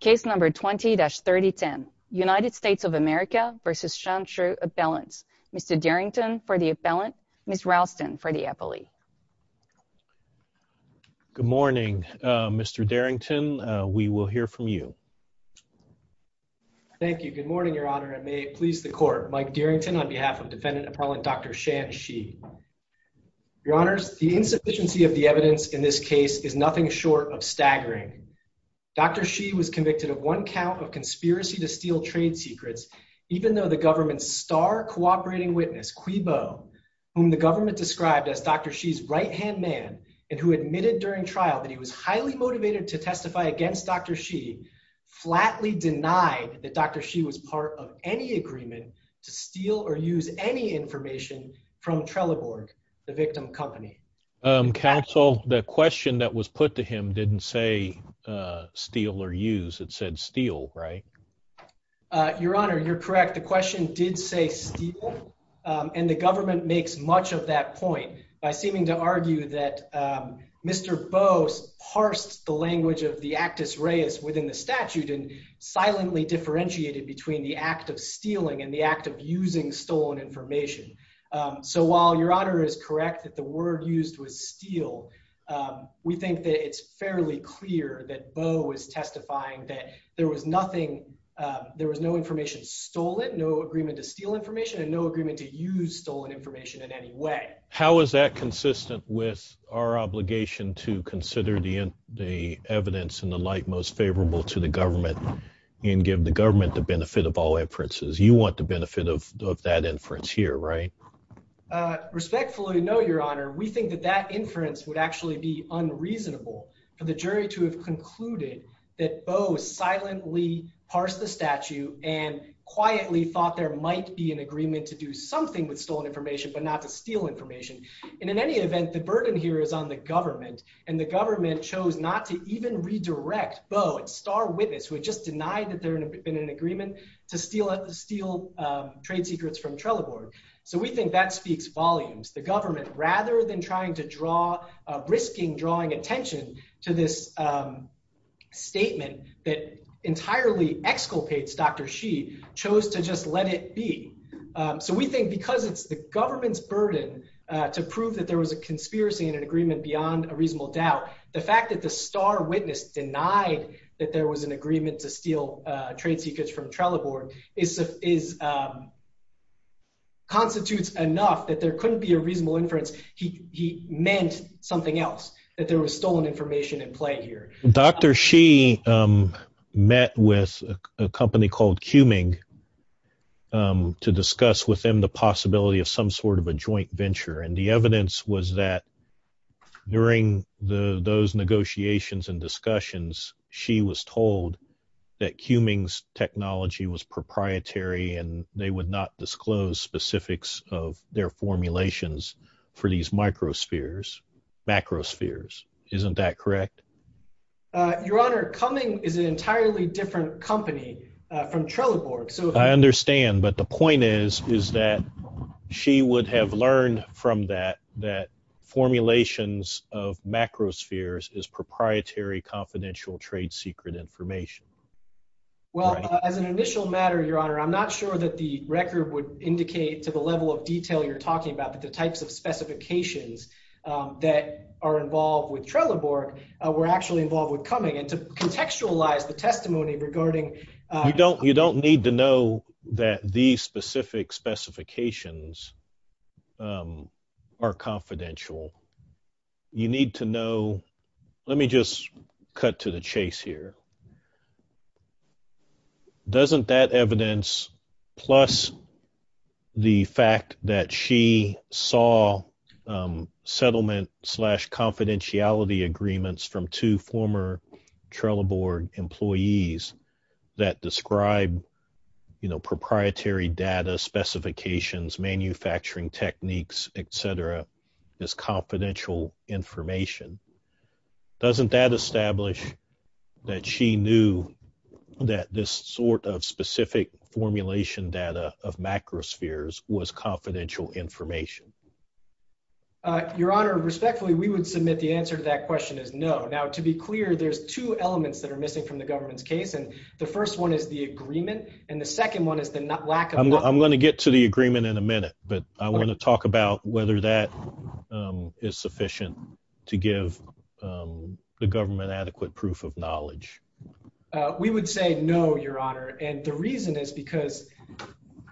Case number 20-3010. United States of America v. Shan Shi Appellants. Mr. Darrington for the appellant, Ms. Ralston for the appellate. Good morning Mr. Darrington. We will hear from you. Thank you. Good morning, Your Honor, and may it please the court. Mike Darrington on behalf of Defendant Appellant Dr. Shan Shi. Your Honors, the insufficiency of the evidence in this case is nothing short of that. Dr. Shi was convicted of one count of conspiracy to steal trade secrets, even though the government's star cooperating witness, Cui Bo, whom the government described as Dr. Shi's right-hand man, and who admitted during trial that he was highly motivated to testify against Dr. Shi, flatly denied that Dr. Shi was part of any agreement to steal or use any information from Trelleborg, the victim company. Counsel, the question that was put to him didn't say steal or use. It said steal, right? Your Honor, you're correct. The question did say steal, and the government makes much of that point by seeming to argue that Mr. Bo parsed the language of the actus reus within the statute and silently differentiated between the act of stealing and the act of using stolen information. So while Your Honor is correct that the word used was steal, we think that it's fairly clear that Bo was testifying that there was nothing, there was no information stolen, no agreement to steal information, and no agreement to use stolen information in any way. How is that consistent with our obligation to consider the evidence in the light most favorable to the government and give the government the benefit of all inferences? You want the benefit of that inference here, right? Respectfully, no, Your Honor. We think that that inference would actually be unreasonable for the jury to have concluded that Bo silently parsed the statute and quietly thought there might be an agreement to do something with stolen information, but not to steal information. And in any event, the burden here is on the government, and the government chose not to even redirect Bo, a star witness who had just denied that there had been an agreement to steal trade secrets from Trelleborg. So we think that speaks volumes. The government, rather than trying to draw, risking drawing attention to this statement that entirely exculpates Dr. She, chose to just let it be. So we think because it's the government's burden to prove that there was a conspiracy in an agreement beyond a reasonable doubt, the fact that the star witness denied that there was an agreement to steal trade secrets from Trelleborg constitutes enough that there couldn't be a reasonable inference he meant something else, that there was stolen information in play here. Dr. She met with a company called Cuming to discuss with them the possibility of some sort of a joint venture, and the evidence was that during those negotiations and discussions, she was told that Cuming's technology was proprietary, and they would not disclose specifics of their formulations for these microspheres, macrospheres. Isn't that correct? Your Honor, Cuming is an entirely different company from Trelleborg. I understand, but the point is, is that she would have learned from that that formulations of macrospheres is proprietary confidential trade secret information. Well, as an initial matter, Your Honor, I'm not sure that the record would indicate to the level of detail you're talking about, but the types of specifications that are involved with Trelleborg were actually involved with Cuming, and to contextualize the testimony regarding... You don't, you don't need to know that these specific specifications are confidential. You need to know... Let me just cut to the chase here. Doesn't that evidence, plus the fact that she saw settlement slash confidentiality agreements from two former Trelleborg employees that describe, you know, proprietary data specifications, manufacturing techniques, etc. as confidential information, doesn't that establish that she knew that this sort of specific formulation data of macrospheres was confidential information? Your Honor, respectfully, we would submit the answer to that question is no. Now, to be clear, there's two elements that are missing from the government's case, and the first one is the agreement, and the second one is the lack of... I'm going to get to the agreement in a minute, but I want to talk about whether that is sufficient to give the government adequate proof of knowledge. We would say no, Your Honor, and the reason is because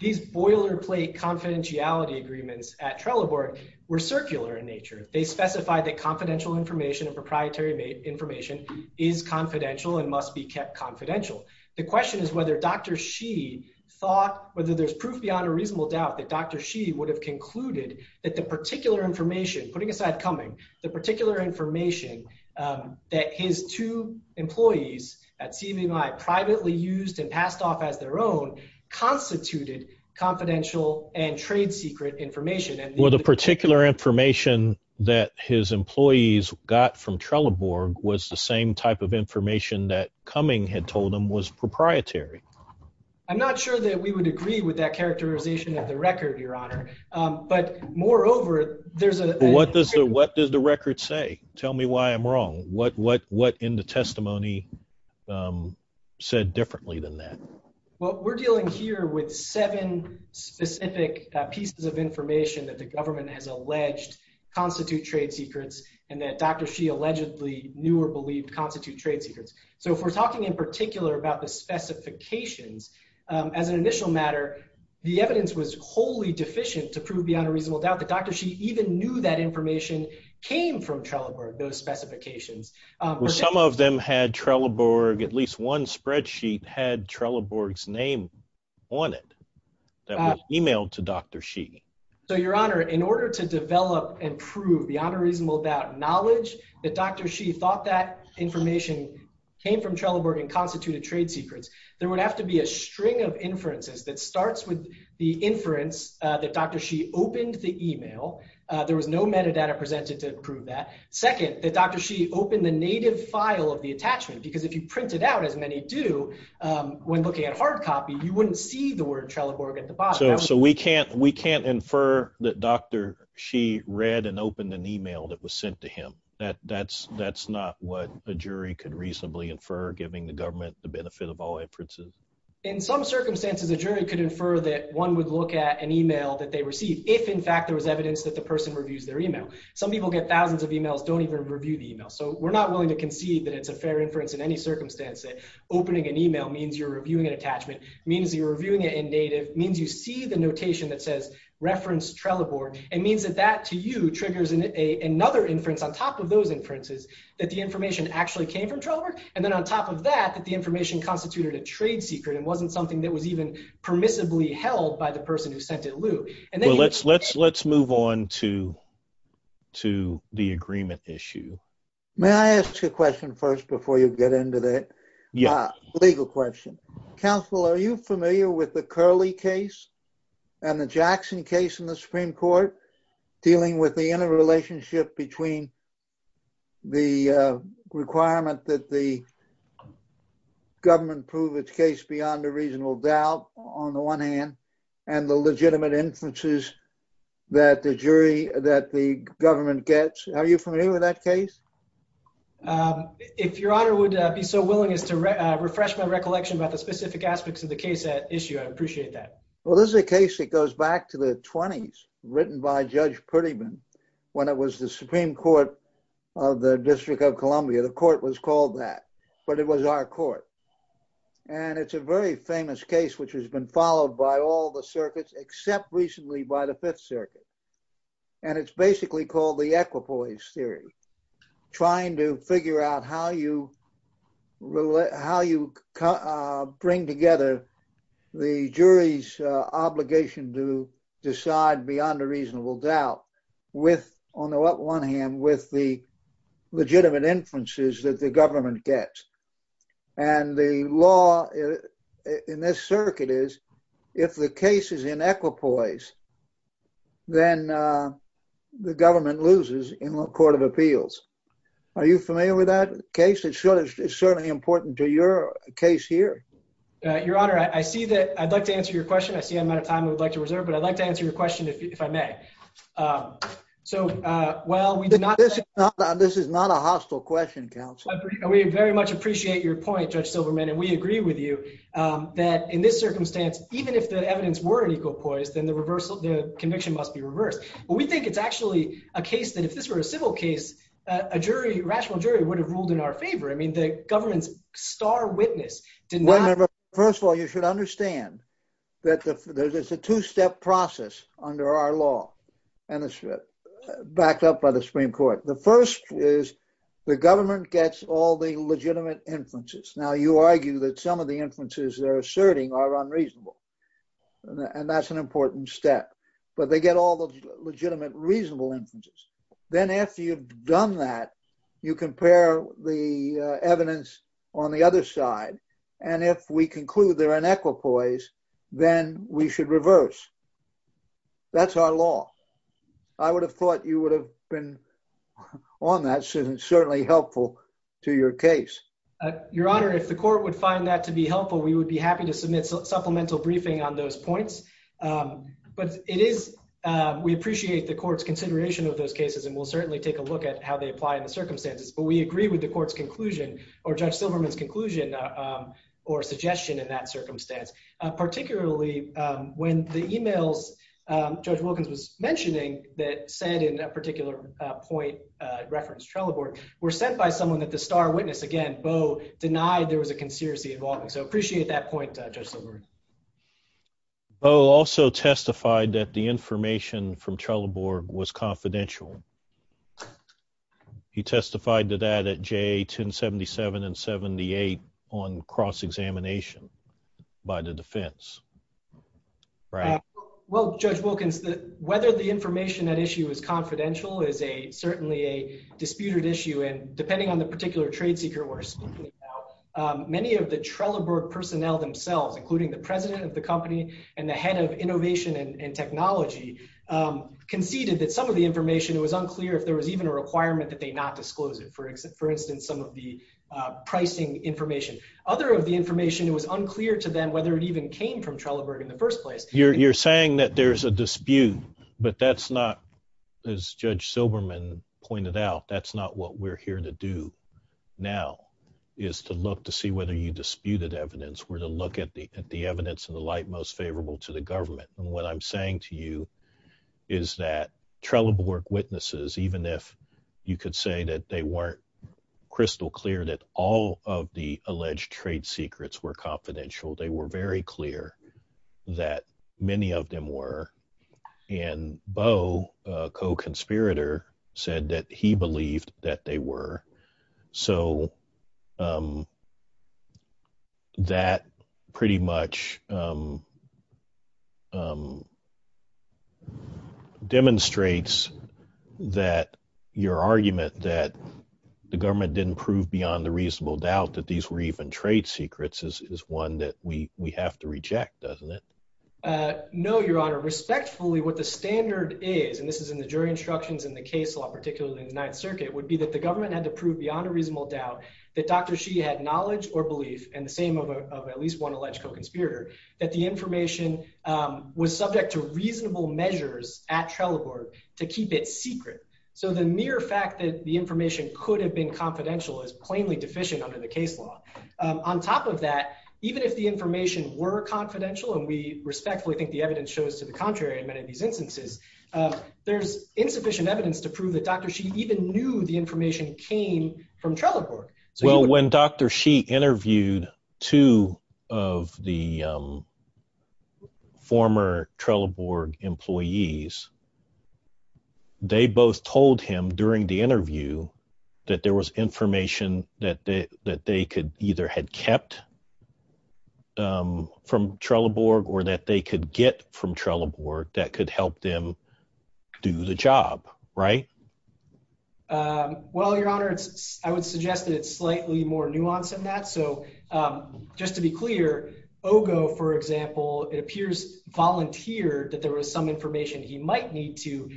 these boilerplate confidentiality agreements at Trelleborg were circular in nature. They specify that confidential information and proprietary information is confidential and must be kept confidential. The question is whether Dr. She thought, whether there's proof Your Honor, reasonable doubt that Dr. She would have concluded that the particular information, putting aside Cumming, the particular information that his two employees at CMUI privately used and passed off as their own constituted confidential and trade secret information. Well, the particular information that his employees got from Trelleborg was the same type of information that Cumming had told him was proprietary. I'm not sure that we would agree with that characterization of the record, Your Honor, but moreover, there's a... What does the record say? Tell me why I'm wrong. What in the testimony said differently than that? Well, we're dealing here with seven specific pieces of information that the government has alleged constitute trade secrets and that Dr. She allegedly knew or believed constitute trade secrets, so if we're talking in particular about the specifications, as an initial matter, the evidence was wholly deficient to prove beyond a reasonable doubt that Dr. She even knew that information came from Trelleborg, those specifications. Some of them had Trelleborg, at least one spreadsheet had Trelleborg's name on it that was emailed to Dr. She. So, Your Honor, in order to develop and prove beyond a reasonable doubt knowledge that Dr. She thought that information came from Trelleborg and constituted trade secrets, there would have to be a string of inferences that starts with the inference that Dr. She opened the email. There was no metadata presented to prove that. Second, that Dr. She opened the native file of the attachment because if you print it out, as many do, when looking at hard copy, you wouldn't see the word Trelleborg at the bottom. So we can't infer that Dr. She read and opened an email that was sent to him. That's not what the jury could reasonably infer, giving the government the benefit of all inferences. In some circumstances, the jury could infer that one would look at an email that they received if, in fact, there was evidence that the person reviews their email. Some people get thousands of emails, don't even review the email. So we're not willing to concede that it's a fair inference in any circumstance. Opening an email means you're reviewing an attachment, means you're reviewing it in native, means you see the notation that says reference Trelleborg. It means that that, to you, triggers another inference on top of those inferences, that the information actually came from Trelleborg, and then on top of that, that the information constituted a trade secret and wasn't something that was even permissibly held by the person who sent it loose. Let's move on to the agreement issue. May I ask you a question first before you get into the legal question? Counsel, are you familiar with the Curley case and the Jackson case in the Supreme Court, dealing with the relationship between the requirement that the government prove its case beyond a reasonable doubt, on the one hand, and the legitimate inferences that the jury, that the government gets? Are you familiar with that case? If Your Honor would be so willing as to refresh my recollection about the specific aspects of the case at issue, I'd appreciate that. Well, this is a case that when it was the Supreme Court of the District of Columbia, the court was called that, but it was our court. And it's a very famous case, which has been followed by all the circuits, except recently by the Fifth Circuit. And it's basically called the equipoise theory, trying to figure out how you bring together the jury's obligation to decide beyond a reasonable doubt, on the one hand, with the legitimate inferences that the government gets. And the law in this circuit is, if the case is in equipoise, then the government loses in a court of appeals. Are you familiar with that case? It's certainly important to your case here. Your Honor, I see that, I'd like to answer your question, I see I'm out of time, I'd like to reserve, but I'd like to answer your question if I may. So, well, we did not... This is not a hostile question, counsel. We very much appreciate your point, Judge Silverman, and we agree with you that in this circumstance, even if the evidence were in equipoise, then the reversal, the conviction must be reversed. We think it's actually a case that if this were a civil case, a jury, rational jury, would have ruled in our favor. I mean, star witness. First of all, you should understand that there's a two-step process under our law, and it's backed up by the Supreme Court. The first is, the government gets all the legitimate inferences. Now, you argue that some of the inferences they're asserting are unreasonable, and that's an important step. But they get all the legitimate, reasonable inferences. Then, after you've done that, you compare the evidence on the other side, and if we conclude they're in equipoise, then we should reverse. That's our law. I would have thought you would have been on that, and certainly helpful to your case. Your Honor, if the court would find that to be helpful, we would be happy to submit supplemental briefing on those points, but it is... We appreciate the court's consideration of those cases, and we'll certainly take a look at how they apply in the circumstances, but we agree with the court's conclusion, or Judge Silverman's conclusion, or suggestion in that circumstance. Particularly, when the emails Judge Wilkins was mentioning, that said in that particular point, referenced Trelleborg, were sent by someone that the star witness, again, Bo, denied there was a conspiracy involvement. So, appreciate that point, Judge Silverman. Bo also testified that the information from Trelleborg was confidential. He testified to that at J 1077 and 78 on cross-examination by the defense. Well, Judge Wilkins, whether the information at issue is confidential is a, certainly a disputed issue, and depending on the particular trade seeker we're speaking about, many of the Trelleborg personnel themselves, including the president of the company and the head of innovation and technology, conceded that some of the information was unclear if there was even a requirement that they not disclose it. For instance, some of the pricing information. Other of the information was unclear to them whether it even came from Trelleborg in the first place. You're saying that there's a dispute, but that's not, as Judge Silverman said, a disputed evidence. What I'm saying to you is that Trelleborg witnesses, even if you could say that they weren't crystal clear that all of the alleged trade secrets were confidential, they were very clear that many of them were, and Bo, a co-conspirator, said that he believed that they were. So that pretty much demonstrates that your argument that the government didn't prove beyond a reasonable doubt that these were even trade secrets is one that we have to reject, doesn't it? No, Your Honor. Respectfully, what the standard is, and this is in the jury instructions in the Fifth Circuit, would be that the government had to prove beyond a reasonable doubt that Dr. Xi had knowledge or belief, and the same of at least one alleged co-conspirator, that the information was subject to reasonable measures at Trelleborg to keep it secret. So the mere fact that the information could have been confidential is plainly deficient under the case law. On top of that, even if the information were confidential, and we respectfully think the evidence shows to the contrary in many of these instances, there's insufficient evidence to prove that Dr. Xi even knew the information came from Trelleborg. Well, when Dr. Xi interviewed two of the former Trelleborg employees, they both told him during the interview that there was information that they that they could either had kept from Trelleborg or that they could get from Trelleborg that could help them do the job, right? Well, Your Honor, I would suggest that it's slightly more nuanced than that. So just to be clear, Ogo, for example, it appears volunteered that there was some information he might need to,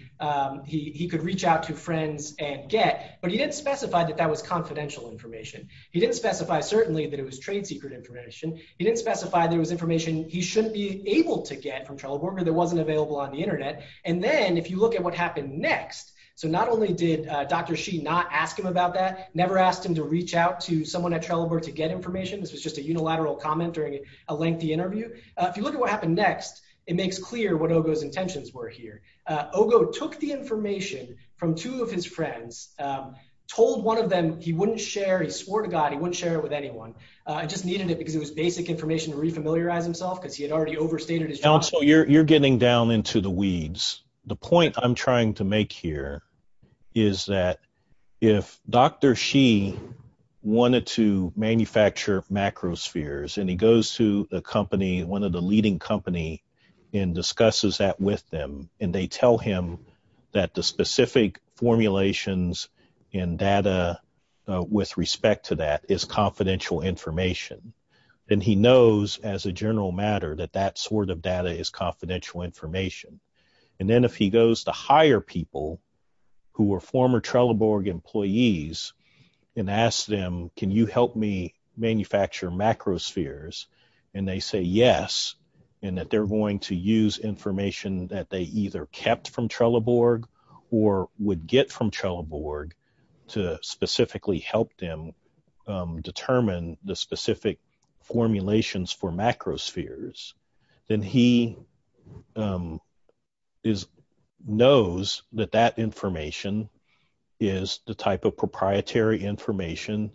he could reach out to friends and get, but he didn't specify that that was confidential information. He didn't specify, certainly, that it was trade secret information. He didn't specify there was information he shouldn't be able to get from Trelleborg or that wasn't available on the internet. And then, if you look at what happened next, so not only did Dr. Xi not ask him about that, never asked him to reach out to someone at Trelleborg to get information, this was just a unilateral comment during a lengthy interview. If you look at what happened next, it makes clear what Ogo's intentions were here. Ogo took the information from two of his friends, told one of them he wouldn't share, he swore to God he wouldn't share it with anyone, just needed it because it was basic information to re-familiarize himself because he had already overstated his job. Also, you're getting down into the weeds. The point I'm trying to make here is that if Dr. Xi wanted to manufacture macrospheres and he goes to the company, one of the leading company, and discusses that with them, and they tell him that the specific formulations and data with respect to that is confidential information, then he knows as a general matter that that sort of data is confidential information. And then, if he goes to hire people who were former Trelleborg employees and asks them, can you help me manufacture macrospheres, and they say yes, and that they're going to use information that they either kept from Trelleborg or would get from Trelleborg to specifically help them determine the specific formulations for macrospheres, then he knows that that information is the type of proprietary information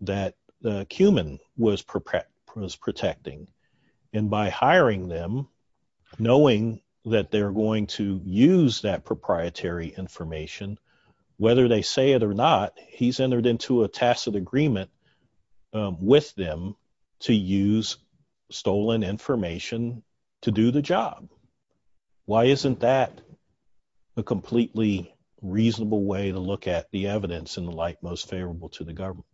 that Cuman was protecting. And by hiring them, knowing that they're going to use that proprietary information, whether they say it or not, he's entered into a tacit agreement with them to use stolen information to do the job. Why isn't that a completely reasonable way to look at the evidence in the light most favorable to the government?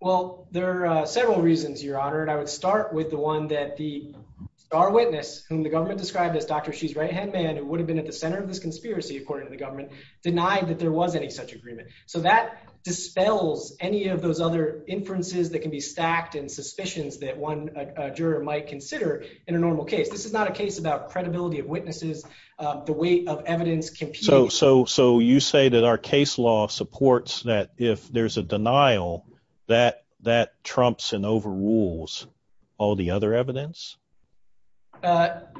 Well, there are several reasons, Your Honor, and I would start with the one that the eyewitness whom the government described as Dr. Xi's right-hand man, who would have been at the center of this conspiracy, according to the government, denied that there was any such agreement. So that dispels any of those other inferences that can be stacked and suspicions that one juror might consider in a normal case. This is not a case about credibility of witnesses, the weight of evidence. So you say that our case law supports that if there's a denial, that trumps and overrules all the other evidence?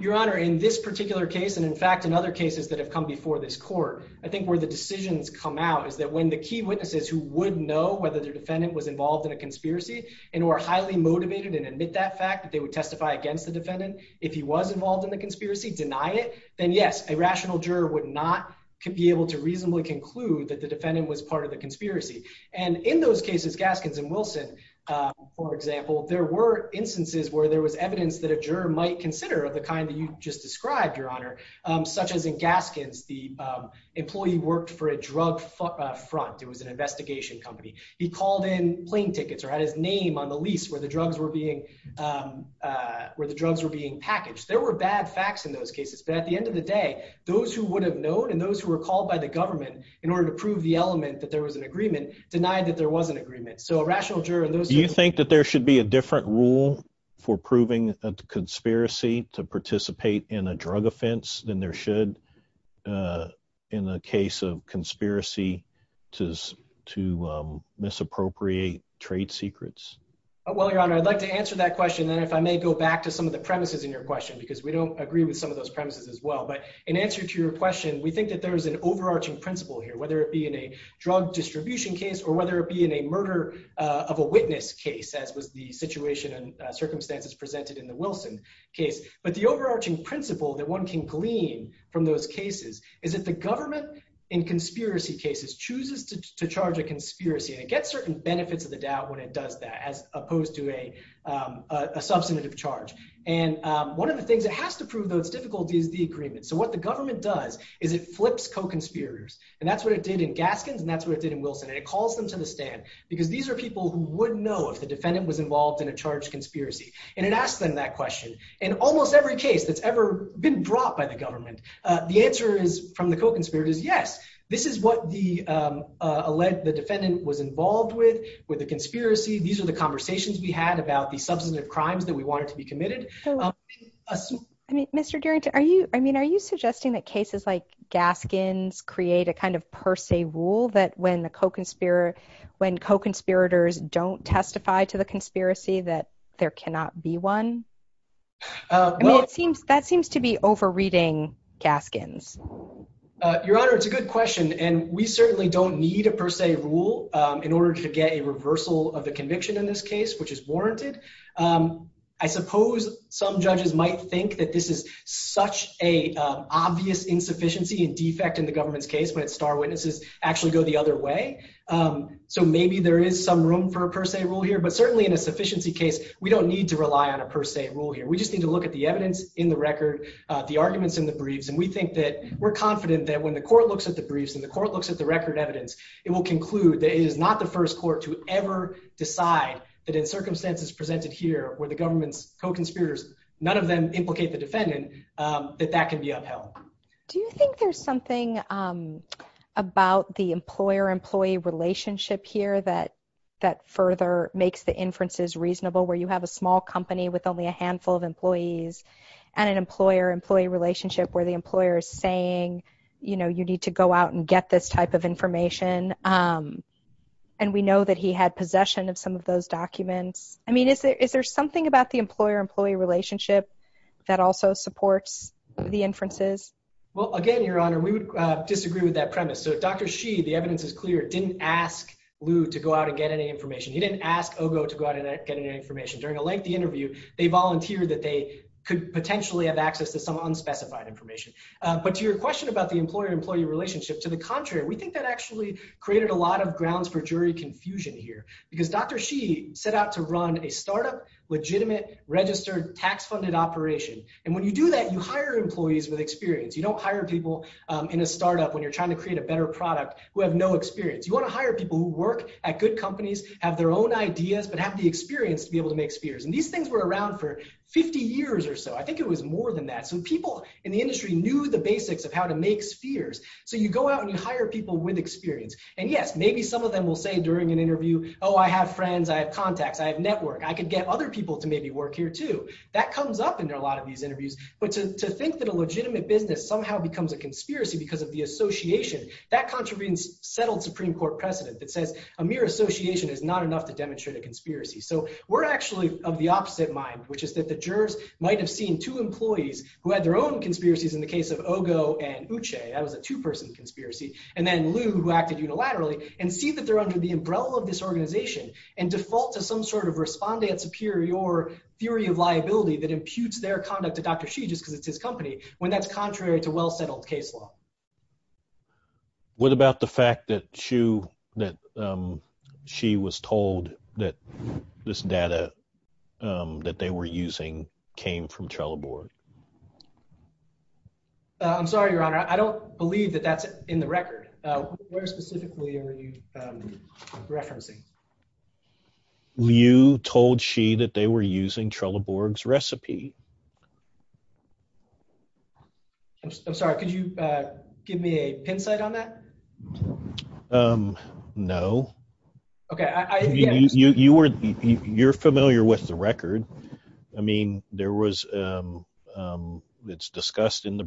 Your Honor, in this particular case, and in fact, in other cases that have come before this court, I think where the decisions come out is that when the key witnesses who would know whether their defendant was involved in a conspiracy and who are highly motivated and admit that fact that they would testify against the defendant, if he was involved in the conspiracy, deny it, then yes, a rational juror would not be able to reasonably conclude that the defendant was part of the conspiracy. And in those cases, Gaskins and Wilson, for example, there were instances where there was evidence that a juror might consider of the kind that you just described, Your Honor, such as in Gaskins, the employee worked for a drug front. It was an investigation company. He called in plane tickets or had his name on the lease where the drugs were being packaged. There were bad facts in those cases. But at the end of the day, those who would have known and those who were called by the government in order to prove the element that there was an agreement denied that there was an You think that there should be a different rule for proving a conspiracy to participate in a drug offense than there should in the case of conspiracy to misappropriate trade secrets? Well, Your Honor, I'd like to answer that question. And if I may go back to some of the premises in your question, because we don't agree with some of those premises as well. But in answer to your question, we think that there is an overarching principle here, whether it be in a murder of a witness case, as with the situation and circumstances presented in the Wilson case. But the overarching principle that one can glean from those cases is that the government in conspiracy cases chooses to charge a conspiracy and get certain benefits of the doubt when it does that, as opposed to a substantive charge. And one of the things that has to prove, though, is difficult, is the agreement. So what the government does is it flips co-conspirators. And that's what it did in Gaskins, and that's what it did in Gaskins. Because these are people who wouldn't know if the defendant was involved in a charged conspiracy. And it asks them that question. In almost every case that's ever been brought by the government, the answer from the co-conspirator is, yes, this is what the defendant was involved with, with a conspiracy. These are the conversations we had about the substantive crimes that we wanted to be committed. I mean, are you suggesting that cases like Gaskins create a kind of per se rule that when the co-conspirator, when co-conspirators don't testify to the conspiracy, that there cannot be one? I mean, that seems to be over-reading Gaskins. Your Honor, it's a good question. And we certainly don't need a per se rule in order to get a reversal of the conviction in this case, which is warranted. I suppose some judges might think that this is such an obvious insufficiency and defect in the government's case when its star witnesses actually go the other way. So maybe there is some room for a per se rule here. But certainly in a sufficiency case, we don't need to rely on a per se rule here. We just need to look at the evidence in the record, the arguments in the briefs. And we think that we're confident that when the court looks at the briefs, when the court looks at the record evidence, it will conclude that it is not the first court to ever decide that in circumstances presented here where the government's co-conspirators, none of them implicate the defendant, that that can be upheld. Do you think there's something about the employer-employee relationship here that further makes the inferences reasonable, where you have a small company with only a handful of employees and an employer-employee relationship where the employer is saying, you know, you need to go out and get this type of information? And we know that he had possession of some of those documents. I mean, is there something about the employer-employee relationship that also supports the inferences? Well, again, Your Honor, we would disagree with that premise. So Dr. Shi, the evidence is clear, didn't ask Liu to go out and get any information. He didn't ask Ogo to go out and get any information. During a lengthy interview, they volunteered that they could potentially have access to some unspecified information. But your question about the employer-employee relationship, to the contrary, we think that actually created a lot of grounds for jury confusion here. Because Dr. Shi set out to run a startup, legitimate, registered, tax-funded operation. And when you do that, you hire employees with experience. You don't hire people in a startup when you're trying to create a better product who have no experience. You want to hire people who work at good companies, have their own ideas, but have the experience to be able to make spheres. And these things were around for 50 years or so. I think it was more than that. So people in the industry knew the basics of how to make spheres. So you go out and you hire people with experience. And yes, maybe some of them will say during an interview, oh, I have friends, I have work here too. That comes up in a lot of these interviews. But to think that a legitimate business somehow becomes a conspiracy because of the association, that contravenes settled Supreme Court precedent that says a mere association is not enough to demonstrate a conspiracy. So we're actually of the opposite mind, which is that the jurors might have seen two employees who had their own conspiracies in the case of Ogo and Uche. That was a two-person conspiracy. And then Lou, who acted unilaterally, and see that they're under the umbrella of this organization and default to some sort of responde superior theory of liability that imputes their conduct to Dr. Xu because it's his company, when that's contrary to well-settled case law. What about the fact that Xu, that Xu was told that this data that they were using came from Trello board? I'm sorry, Your Honor. I don't believe that that's in the record. Where specifically are you referencing? You told Xu that they were using Trello board's recipe. I'm sorry, could you give me a pin site on that? No. You're familiar with the record. I mean, there was, it's discussed in the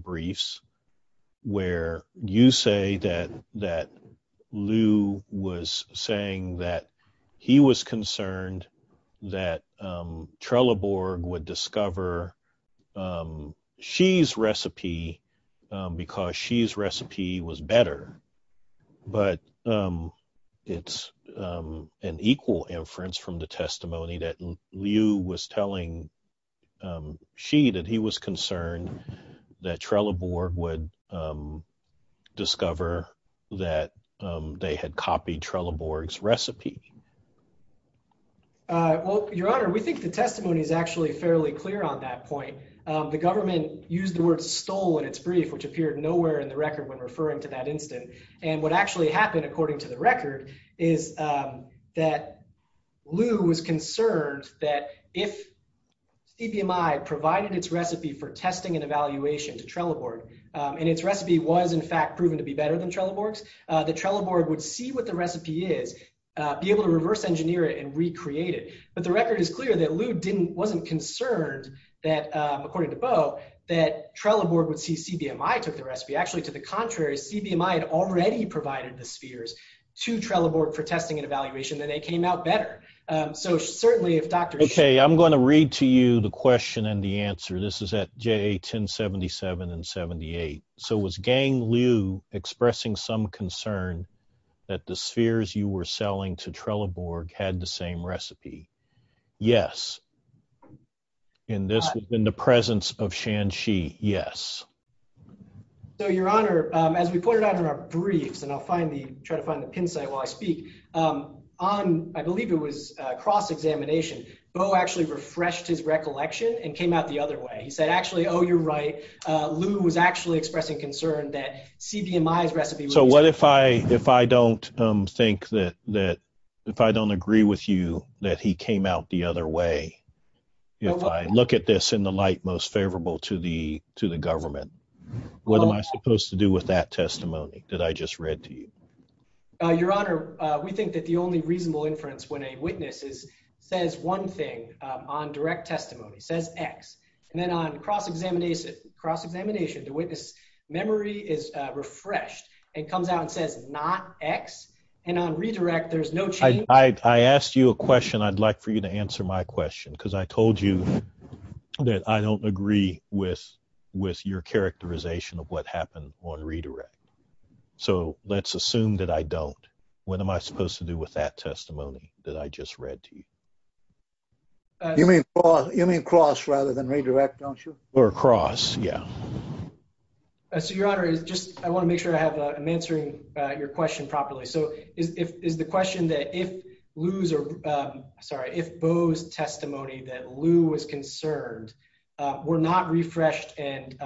that Lou was saying that he was concerned that Trello board would discover Xu's recipe because Xu's recipe was better, but it's an equal inference from the testimony that Lou was telling Xu that he was concerned that Trello board would discover that they had copied Trello board's recipe. Well, Your Honor, we think the testimony is actually fairly clear on that point. The government used the word stole in its brief, which appeared nowhere in the record when referring to that incident. And what actually happened according to the record is that Lou was concerned that if CBMI provided its recipe for testing and evaluation to Trello board, and its recipe was in fact proven to be better than Trello board's, the Trello board would see what the recipe is, be able to reverse engineer it and recreate it. But the record is clear that Lou wasn't concerned that, according to Bo, that Trello board would see CBMI took the recipe. Actually, to the contrary, CBMI had already provided the spheres to Trello board for testing and evaluation, and they came out better. So certainly if Dr. Xu I'm going to read to you the question and the answer. This is at J1077 and 78. So was Gang Lou expressing some concern that the spheres you were selling to Trello board had the same recipe? Yes. And this has been the presence of Shanxi. Yes. So, Your Honor, as we put it on our briefs, and I'll try to find the pin site while I speak, on, I believe it was cross-examination, Bo actually refreshed his recollection and came out the other way. He said, actually, oh, you're right. Lou was actually expressing concern that CBMI's recipe... So what if I don't think that, if I don't agree with you, that he came out the other way? If I look at this in the light most favorable to the government, what am I supposed to do with that testimony that I just read to you? Your Honor, we think that the only reasonable inference when a witness says one thing on direct testimony, says X, and then on cross-examination, the witness memory is refreshed and comes out and says not X. And on redirect, there's no change. I asked you a question. I'd like for you to answer my question because I told you that I don't agree with your characterization of what happened on redirect. So let's assume that I don't. What am I supposed to do with that testimony that I just read to you? You mean cross rather than redirect, don't you? Or cross, yeah. So, Your Honor, I want to make sure I'm answering your question properly. So the question that if Bo's testimony that Lou was concerned were not refreshed and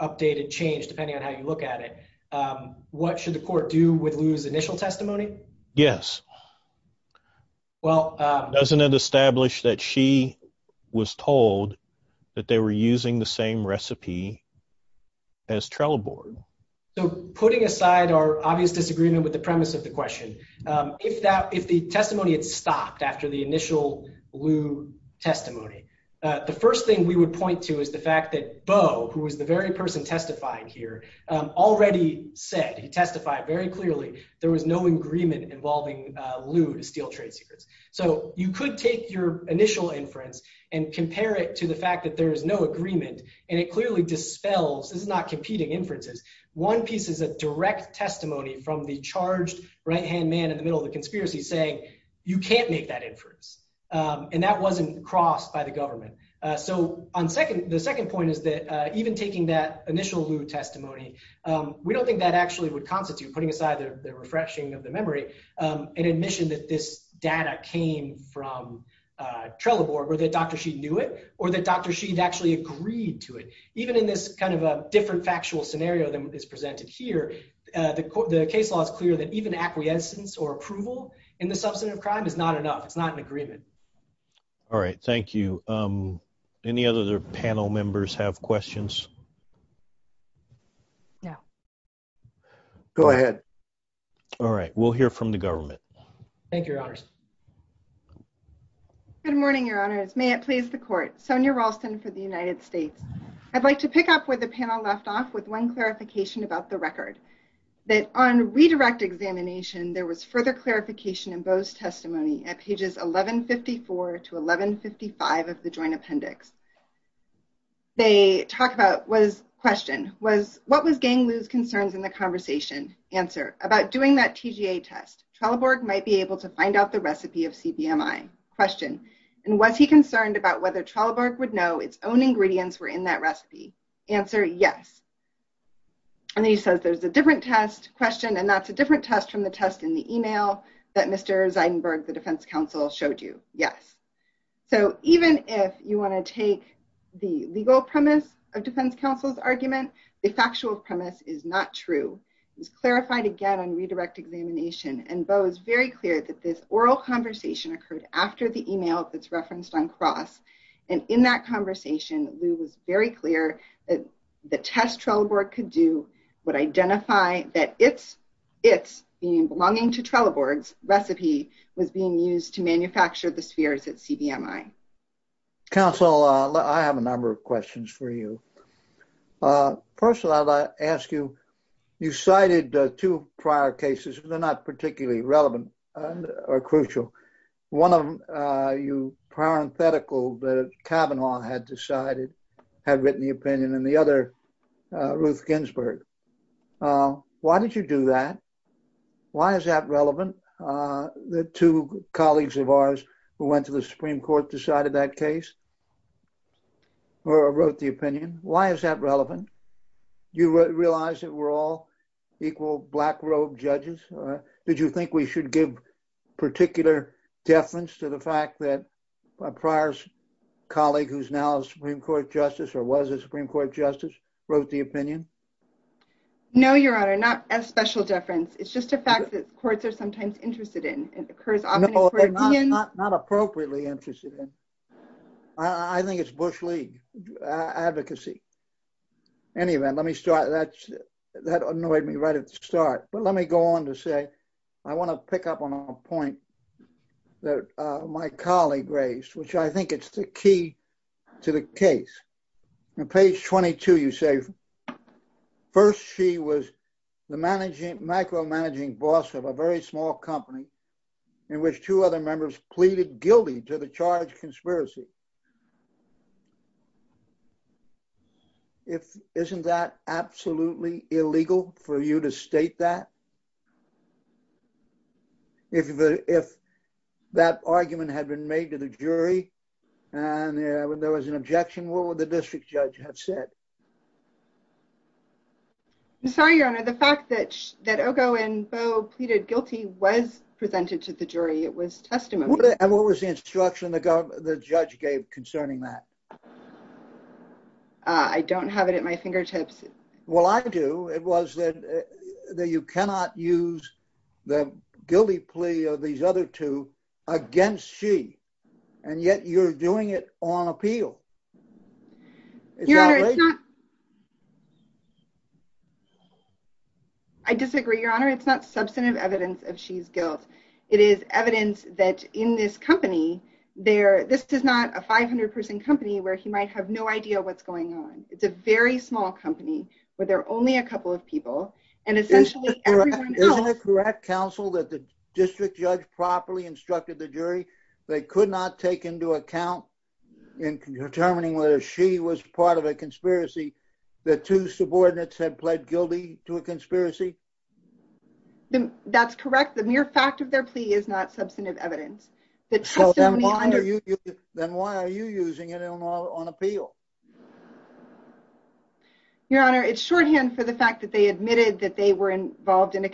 updated, changed, depending on how you look at it, what should the court do with Lou's initial testimony? Yes. Doesn't it establish that she was told that they were using the same recipe as Trell Board? So putting aside our obvious disagreement with the premise of the question, if the testimony had stopped after the initial Lou testimony, the first thing we would point to is the fact that Bo, who is the very person testifying here, already said, he testified very clearly, there was no agreement involving Lou to steal trade secrets. So you could take your initial inference and compare it to the fact that there is no agreement, and it clearly dispels, this is not competing inferences, one piece of the direct testimony from the charged right-hand man in the middle of the conspiracy saying, you can't make that inference. And that wasn't crossed by the government. So the second point is that even taking that initial Lou testimony, we don't think that actually would constitute, putting aside the refreshing of the memory, an admission that this data came from Trell Board, or that Dr. Sheed knew it, or that Dr. Sheed actually agreed to it. Even in this kind of different factual scenario that is presented here, the case law is clear that even acquiescence or approval in the substance of crime is not enough. It's not an agreement. All right. Thank you. Any other panel members have questions? No. Go ahead. All right. We'll hear from the government. Thank you, Your Honors. Good morning, Your Honors. May it please the court. Sonia Ralston for the United States. I'd like to pick up where the panel left off with one clarification about the record, that on redirect examination, there was further clarification in Bo's testimony at pages 1154 to 1155 of the joint appendix. They talk about, was, question, was, what was gaining Lou's concerns in the conversation? Answer, about doing that TGA test. Trell Board might be able to find out the recipe of CBMI. Question, and was he concerned about whether Trell Board would know its own ingredients were in that recipe? Answer, yes. And then he says there's a different test, question, and that's a different test from the test in the email that Mr. Zeidenberg, the defense counsel, showed you. Yes. So even if you want to take the legal premise of defense counsel's argument, the factual premise is not true. He's clarified again on redirect examination, and Bo is very clear that this oral conversation occurred after the email that's very clear that the test Trell Board could do would identify that it's, it's belonging to Trell Board's recipe was being used to manufacture the spheres at CBMI. Counsel, I have a number of questions for you. First of all, I'd like to ask you, you cited two prior cases. They're not particularly relevant or crucial. One of you, parenthetical, the Kavanaugh had decided, had written the opinion, and the other, Ruth Ginsburg. Why did you do that? Why is that relevant? The two colleagues of ours who went to the Supreme Court decided that case or wrote the opinion. Why is that relevant? Do you realize that we're all equal black robe judges? Did you think we should give particular deference to the fact that a prior colleague who's now Supreme Court justice or was a Supreme Court justice wrote the opinion? No, Your Honor, not as special deference. It's just a fact that courts are sometimes interested in. It occurs. Not appropriately interested in. I think it's Bush league advocacy. Anyway, let me start. That's that annoyed me right at the start, but let me go on to say I want to pick up on a point that my colleague raised, which I think it's the key to the case. In page 22, you say first, she was the managing macro managing boss of a very small company in which two other members pleaded guilty to the charge conspiracy. If isn't that absolutely illegal for you to state that if if that argument had been made to the jury and there was an objection, what would the district judge have said? I'm sorry, Your Honor. The fact that that Ogo and Bo pleaded guilty was presented to the jury. It would have always instruction to go. The judge gave concerning that. I don't have it at my fingertips. Well, I do. It was that that you cannot use the guilty plea of these other two against she and yet you're doing it on appeal. Your Honor, it's not. I disagree, Your Honor. It's not substantive evidence of she's guilt. It is evidence that in this company there, this is not a 500 person company where he might have no idea what's going on. It's a very small company where there are only a couple of people and essentially correct counsel that the district judge properly instructed the jury. They could not take into account in determining whether she was part of a conspiracy. The two subordinates had pled guilty to a conspiracy. That's correct. The mere fact of their plea is not substantive evidence. Then why are you using it on appeal? Your Honor, it's shorthand for the fact that they admitted that they were involved in a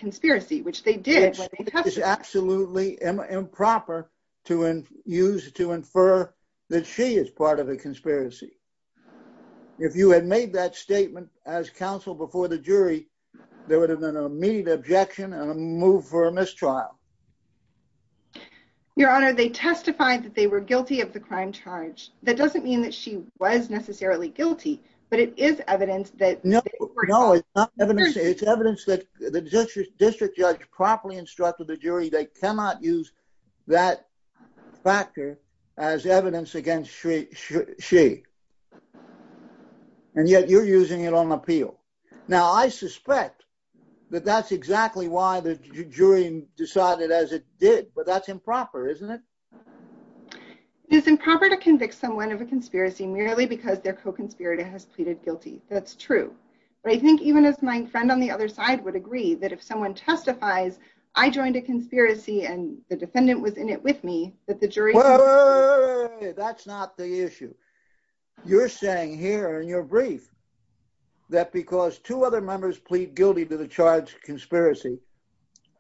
use to infer that she is part of a conspiracy. If you had made that statement as counsel before the jury, there would have been an immediate objection and a move for a mistrial. Your Honor, they testified that they were guilty of the crime charge. That doesn't mean that she was necessarily guilty, but it is evidence that no, no, it's not evidence. It's evidence that the district district judge properly instructed the jury. They cannot use that factor as evidence against she. And yet you're using it on appeal. Now, I suspect that that's exactly why the jury decided as it did, but that's improper, isn't it? It's improper to convict someone of a conspiracy merely because their co-conspirator has pleaded guilty. That's true. I think even if my friend on the other side would agree that if someone testifies, I joined a conspiracy and the defendant was in it with me that the jury. That's not the issue you're saying here in your brief that because two other members plead guilty to the charge conspiracy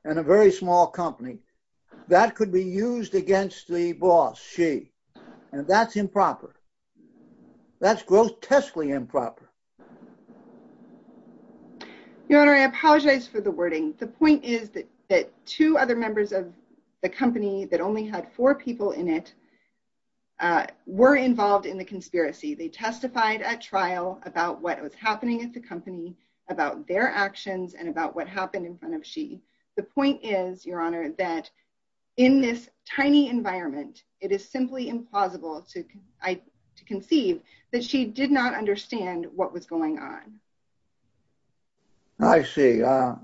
and a very small company that could be used against the boss. She and that's improper. That's grotesquely improper. I apologize for the wording. The point is that two other members of the company that only had four people in it were involved in the conspiracy. They testified at trial about what was happening at the company, about their actions and about what happened in front of she. The point is, Your Honor, that in this tiny environment, it is simply implausible to conceive that she did not what was going on. I see. I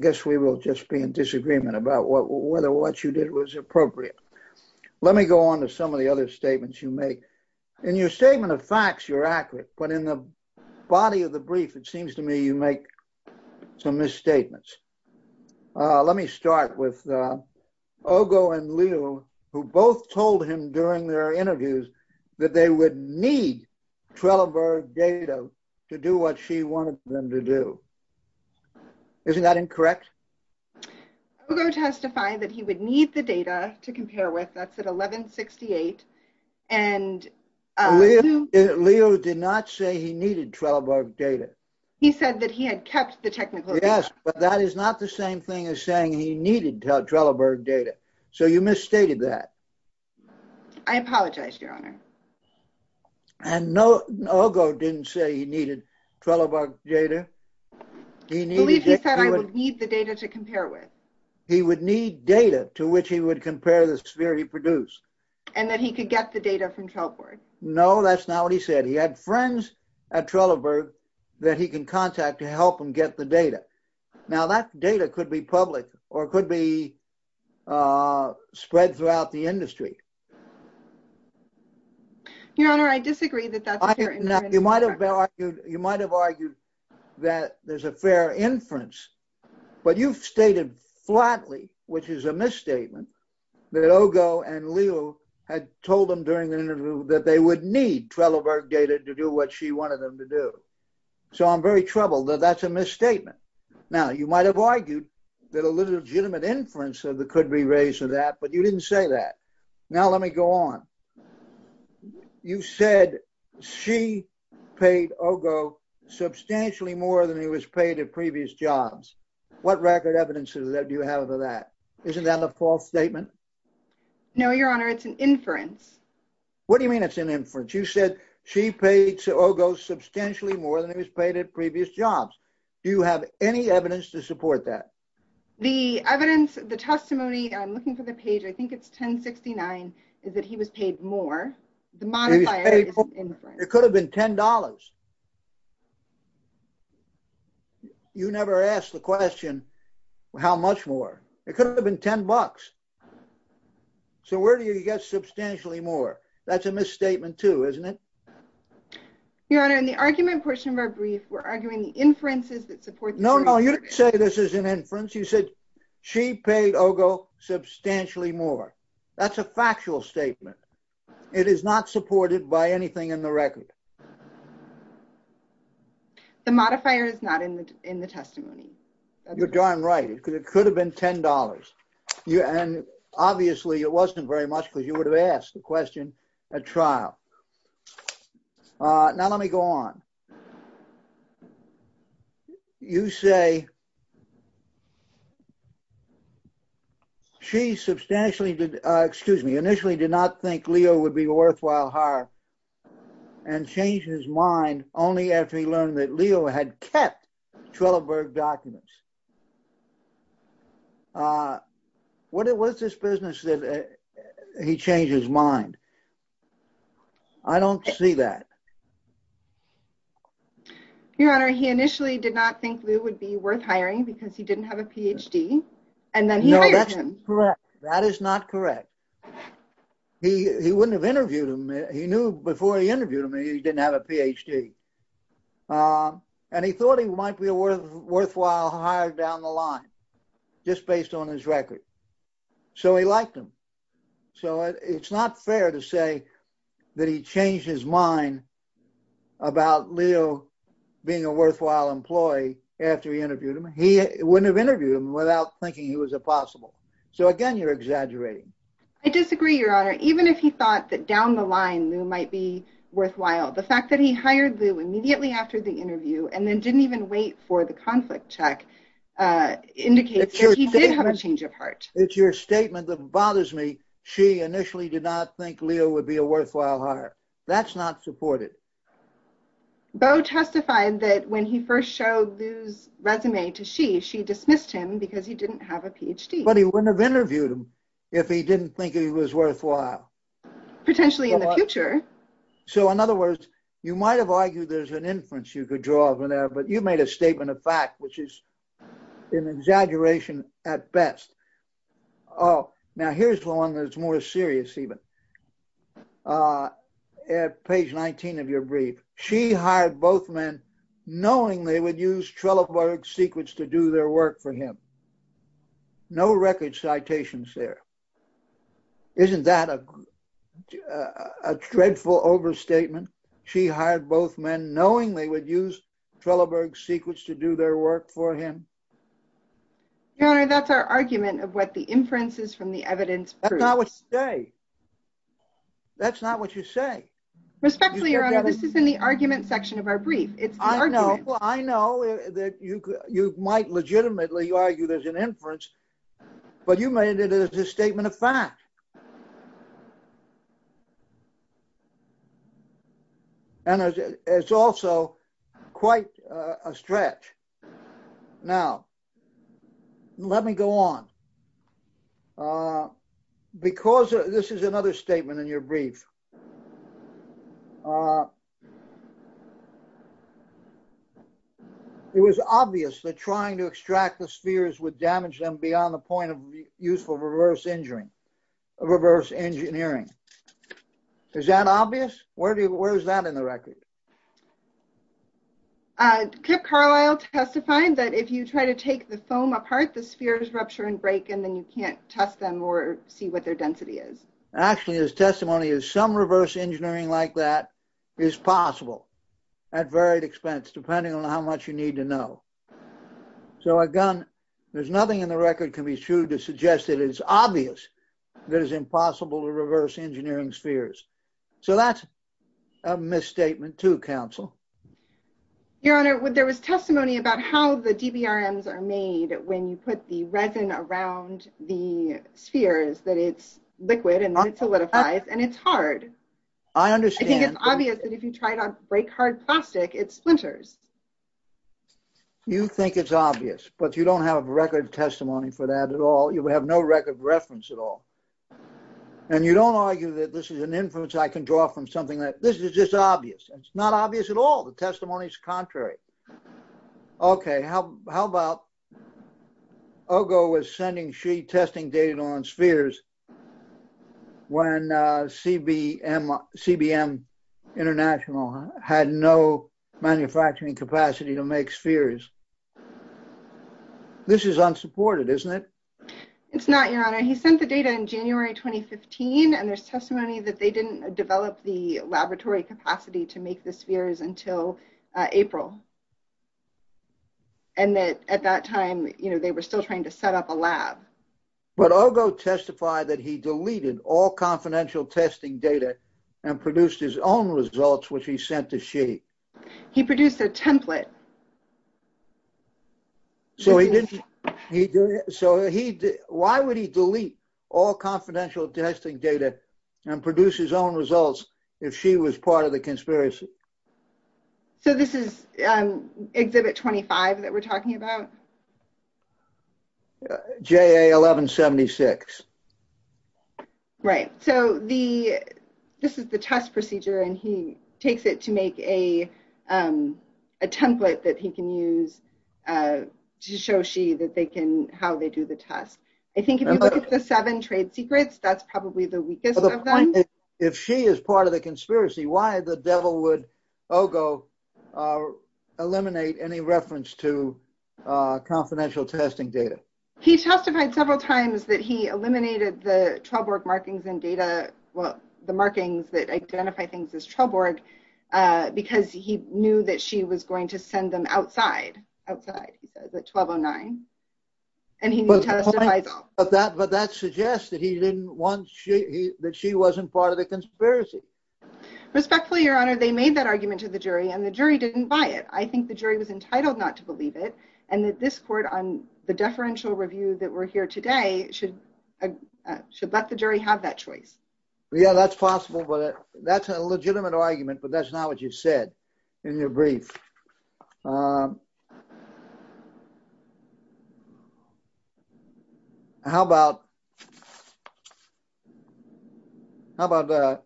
guess we will just be in disagreement about whether what you did was appropriate. Let me go on to some of the other statements you make in your statement of facts. You're accurate, but in the body of the brief, it seems to me you make some misstatements. Let me start with Ogo and Leo, who both told him during their interviews that they would need Treloar data to do what she wanted them to do. Isn't that incorrect? Ogo testified that he would need the data to compare with us at 1168. Leo did not say he needed Treloar data. He said that he had kept the technical. Yes, but that is not the same thing as saying he needed Treloar data. So you misstated that. I apologize, Your Honor. And Ogo didn't say he needed Treloar data. He said he would need the data to compare with. He would need data to which he would compare the sphere he produced. And that he could get the data from Treloar. No, that's not what he said. He had friends at Treloar that he could contact to help him the data. Now, that data could be public or could be spread throughout the industry. Your Honor, I disagree that that's a fair inference. You might have argued that there's a fair inference, but you've stated flatly, which is a misstatement, that Ogo and Leo had told him during the interview that they would Treloar data to do what she wanted them to do. So I'm very troubled that that's a misstatement. Now, you might have argued that a legitimate inference could be raised to that, but you didn't say that. Now, let me go on. You said she paid Ogo substantially more than he was paid at previous jobs. What record evidence do you have of that? Isn't that a false statement? No, Your Honor, it's an inference. What do you mean it's an inference? You said she paid Ogo substantially more than he was paid at previous jobs. Do you have any evidence to support that? The evidence, the testimony, I'm looking for the page, I think it's 1069, is that he was paid more. The modifier is inference. It could have been $10. You never asked the question, how much more? It could have been $10. So where do you get substantially more? That's a misstatement, too, isn't it? Your Honor, in the argument portion of our brief, we're arguing the inferences that support... No, no, you didn't say this is an inference. You said she paid Ogo substantially more. That's a factual statement. It is not supported by anything in the record. The modifier is not in the testimony. You're darn right. It could have been $10. And obviously, it wasn't very much because you would have asked the question at trial. Now, let me go on. You say she substantially, excuse me, initially did not think Leo would be worthwhile hire and changed his mind only after he learned that Leo had kept Treloar documents. What was this business that he changed his mind? I don't see that. Your Honor, he initially did not think Leo would be worth hiring because he didn't have a PhD. And then he hired him. That is not correct. He wouldn't have interviewed him. He knew before he interviewed him that he didn't have a PhD. And he thought he might be a worthwhile hire down the line just based on his record. So he liked him. So it's not fair to say that he changed his mind about Leo being a worthwhile employee after he interviewed him. He wouldn't have interviewed him without thinking he was a possible. So again, you're exaggerating. I disagree, Your Honor. Even if he thought that down the line, Leo might be worthwhile. The fact that he hired Leo immediately after the interview and then didn't even wait for the conflict check indicates that he did have a change of heart. It's your statement that bothers me. She initially did not think Leo would be a worthwhile hire. That's not supported. Bo testified that when he first showed Leo's resume to she, she dismissed him because he wouldn't have interviewed him if he didn't think he was worthwhile. Potentially in the future. So in other words, you might have argued there's an inference you could draw from that, but you made a statement of fact, which is an exaggeration at best. Oh, now here's one that's more serious even. At page 19 of your brief, she hired both men knowing they would use Trelleborg's secrets to do their work for him. No record citations there. Isn't that a dreadful overstatement? She hired both men knowing they would use Trelleborg's secrets to do their work for him. Your Honor, that's our argument of what the inference is from the evidence. That's not what you say. That's not what you say. Respectfully, Your Honor, this is in the argument section of our brief. I know that you might legitimately argue there's an inference, but you made it as a statement of fact. And it's also quite a stretch. Now, let me go on. Because this is another statement in your brief. It was obvious that trying to extract the spheres would damage them beyond the point of useful reverse engineering. Is that obvious? Where is that in the record? Kip Carlyle testified that if you try to take the foam apart, the spheres rupture and break, and then you can't test them or see what their density is. Actually, his testimony is some reverse engineering like that is possible at varied expense, depending on how much you need to know. So again, there's nothing in the record to be true to suggest that it's obvious that it's impossible to reverse engineering spheres. So that's a misstatement too, counsel. Your Honor, there was testimony about how the GBRMs are made when you put the resin around the spheres, that it's liquid and not solidified, and it's hard. I understand. I think it's obvious that if you try to break hard plastic, it splinters. You think it's obvious, but you don't have record testimony for that at all. You have no record reference at all. And you don't argue that this is an inference I can draw from something that this is just obvious. It's not obvious at all. The testimony is contrary. Okay, how about Ogo was sending sheet testing data on spheres when CBM International had no manufacturing capacity to make spheres. This is unsupported, isn't it? It's not, Your Honor. He sent the data in January 2015, and there's testimony that they didn't develop the laboratory capacity to make the spheres until April. And that at that time, they were still trying to set up a lab. But Ogo testified that he deleted all confidential testing data and produced his own results, which he sent to Shea. He produced a template. So, why would he delete all confidential testing data and produce his own results if Shea was part of the conspiracy? So, this is Exhibit 25 that we're talking about? JA 1176. Right. So, this is the test procedure, and he takes it to make a template that he can use to show Shea how they do the test. I think if you look at the seven trade secrets, that's probably the weakest of them. If Shea is part of the conspiracy, why the devil would Ogo eliminate any reference to confidential testing data? He testified several times that he eliminated the 12-org markings in data, the markings that identify things as 12-org, because he knew that Shea was going to send them outside of the 1209. But that suggests that Shea wasn't part of the conspiracy. Respectfully, Your Honor, they made that argument to the jury, and the jury didn't buy it. I think the jury was entitled not to believe it, and that this court on the deferential review that we're here today should let the jury have that choice. Yeah, that's possible, but that's a legitimate argument, but that's not what you said in your brief. How about Ogo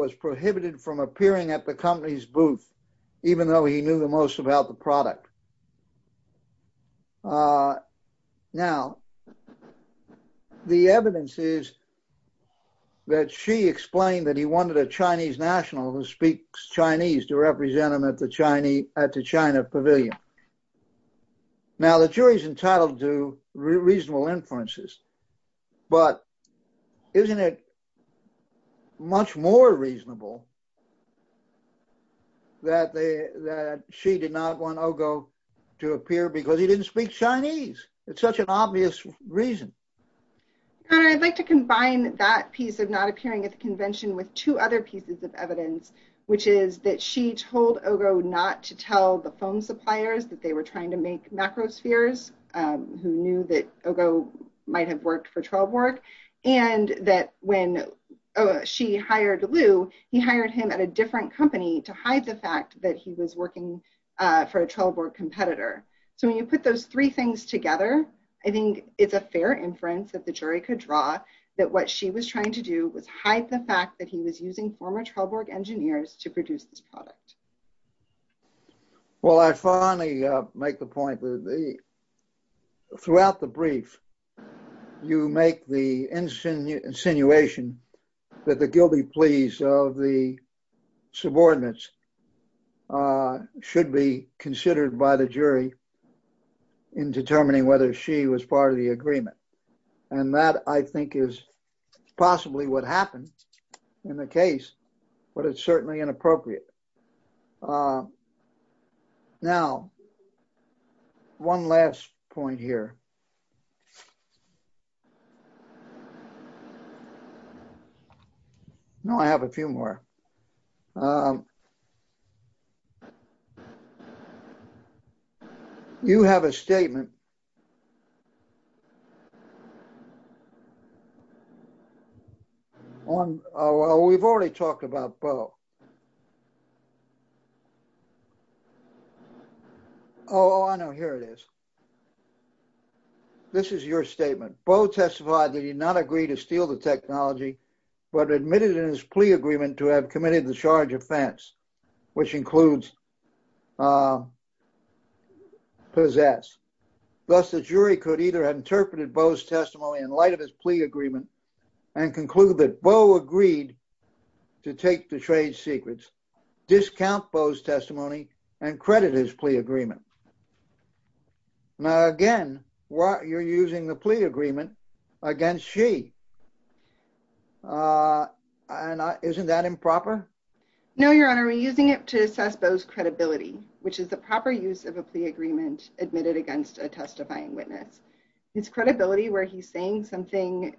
was prohibited from appearing at the company's booth, even though he knew the most about the product? Now, the evidence is that Shea explained that he wanted a Chinese national who speaks Chinese to represent him at the China Pavilion. Now, the jury's entitled to reasonable inferences, but isn't it much more reasonable that Shea did not want Ogo to appear because he didn't speak Chinese? It's such an obvious reason. Your Honor, I'd like to combine that piece of not appearing at the convention with two other pieces of evidence, which is that Shea told Ogo not to tell the phone suppliers that they were trying to make macrospheres, who knew that Ogo might have worked for Trailbork, and that when Shea hired Lu, he hired him at a different company to hide the fact that he was working for a Trailbork competitor. So, when you put those three things together, I think it's a fair inference that the jury could draw that what Shea was trying to do was hide the fact that he was using former Trailbork engineers to produce this product. Well, I finally make the point that throughout the brief, you make the insinuation that the guilty pleas of the subordinates should be considered by the jury in determining whether Shea was part of the agreement. And that, I think, is possibly what happened in the case, but it's certainly inappropriate. Now, one last point here. No, I have a few more. You have a statement here. Well, we've already talked about Bo. Oh, I know, here it is. This is your statement. Bo testified that he did not agree to steal the technology, but admitted in his plea agreement to have committed the charge offense, which includes possess. Thus, the jury could either have interpreted Bo's testimony in light of his plea agreement and concluded that Bo agreed to take the trade secrets, discount Bo's testimony, and credit his plea agreement. Now, again, you're using the plea agreement against Shea. Isn't that improper? No, Your Honor, we're using it to assess Bo's credibility, which is the proper use of a plea agreement admitted against a testifying witness. His credibility where he's saying something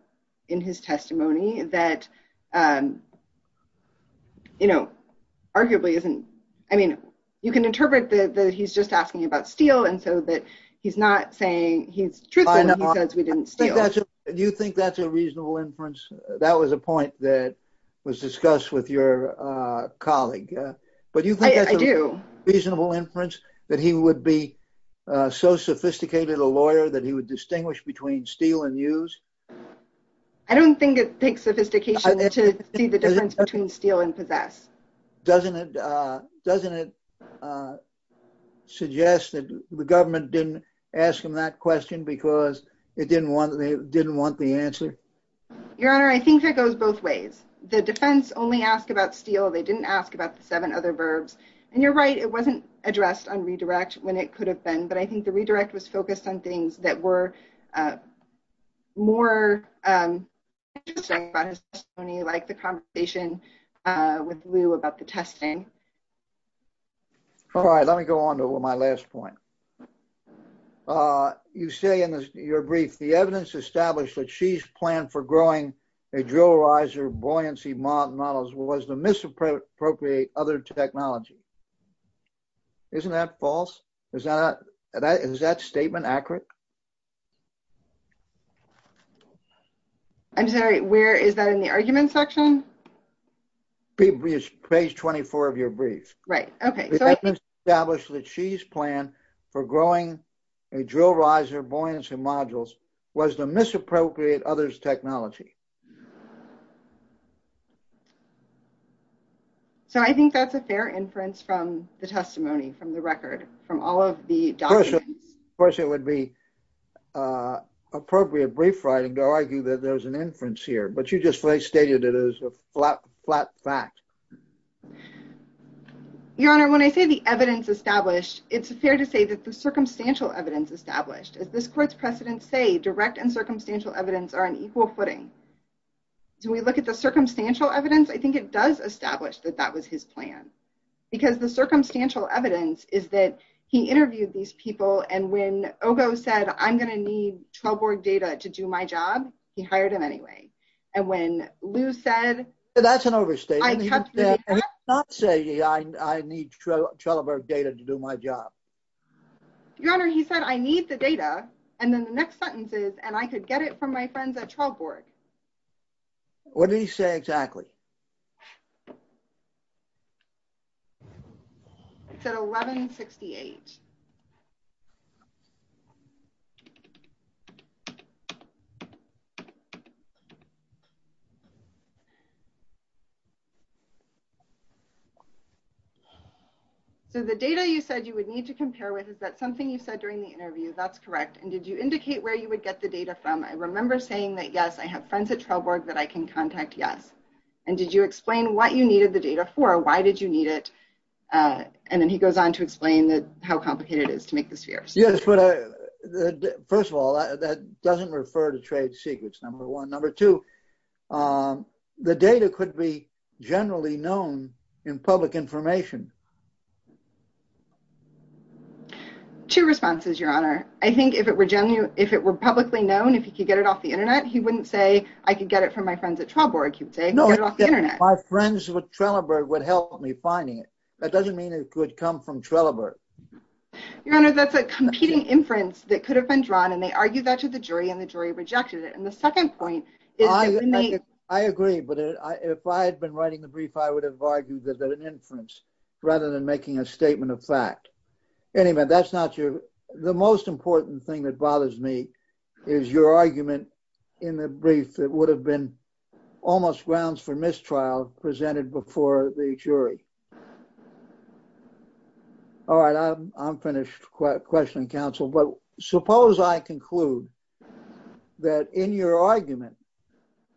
in his testimony that, you know, arguably isn't, I mean, you can interpret that he's just asking about steal and so that he's not saying he's truthful enough because we didn't steal. Do you think that's a reasonable inference? That was a point that was discussed with your colleague. But do you think that's a reasonable inference, that he would be so sophisticated a I don't think it takes sophistication to see the difference between steal and possess. Doesn't it suggest that the government didn't ask him that question because it didn't want the answer? Your Honor, I think it goes both ways. The defense only asked about steal. They didn't ask about the seven other verbs. And you're right, it wasn't addressed on redirect when it could have been. But I think the redirect was focused on things that were more interesting about his testimony, like the conversation with Lou about the testing. All right, let me go on to my last point. You say in your brief, the evidence established that Xi's plan for growing a drill riser buoyancy model was to misappropriate other technology. Isn't that false? Is that statement accurate? I'm sorry, where is that in the argument section? Page 24 of your brief. Right, okay. The evidence established that Xi's plan for growing a drill riser buoyancy module was to misappropriate others' technology. So I think that's a fair inference from the testimony, from the record, from all of the documents. Of course, it would be appropriate brief writing to argue that there's an inference here. But you just stated it as a flat fact. Your Honor, when I say the evidence established, it's fair to say that the circumstantial evidence established. As this court's precedents say, direct and circumstantial evidence are on equal footing. Do we look at the circumstantial evidence? I think it does establish that that was his plan. Because the circumstantial evidence is that he interviewed these people, and when Ogo said, I'm going to need trail board data to do my job, he hired him anyway. And when Lou said... That's an overstatement. I'm not saying I need trail board data to do my job. Your Honor, he said, I need the data. And then the next sentence is, and I could get it from my friends at trail board. What did he say exactly? He said 1168. So the data you said you would need to compare with is that something you said during the interview. That's correct. And did you indicate where you would get the data from? I remember saying that, yes, I have friends at trail board that I can contact. Yes. And did you explain what you needed the data for? Why did you need it? And then he goes on to explain how complicated it is to make the spheres. First of all, that doesn't refer to trade secrets, number one. Number two, the data could be generally known in public information. Two responses, Your Honor. I think if it were publicly known, if you could get it off the internet, he wouldn't say, I could get it from my friends at trail board. He would say, get it off the internet. My friends at Trelleborg would help me finding it. That doesn't mean it could come from Trelleborg. Your Honor, that's a competing inference that could have been drawn, and they argued that to the jury, and the jury rejected it. And the second point. I agree, but if I had been writing the brief, I would have argued that there's an inference rather than making a statement of fact. Anyway, that's not your, the most important thing that in the brief that would have been almost grounds for mistrial presented before the jury. All right, I'm finished questioning counsel. But suppose I conclude that in your argument,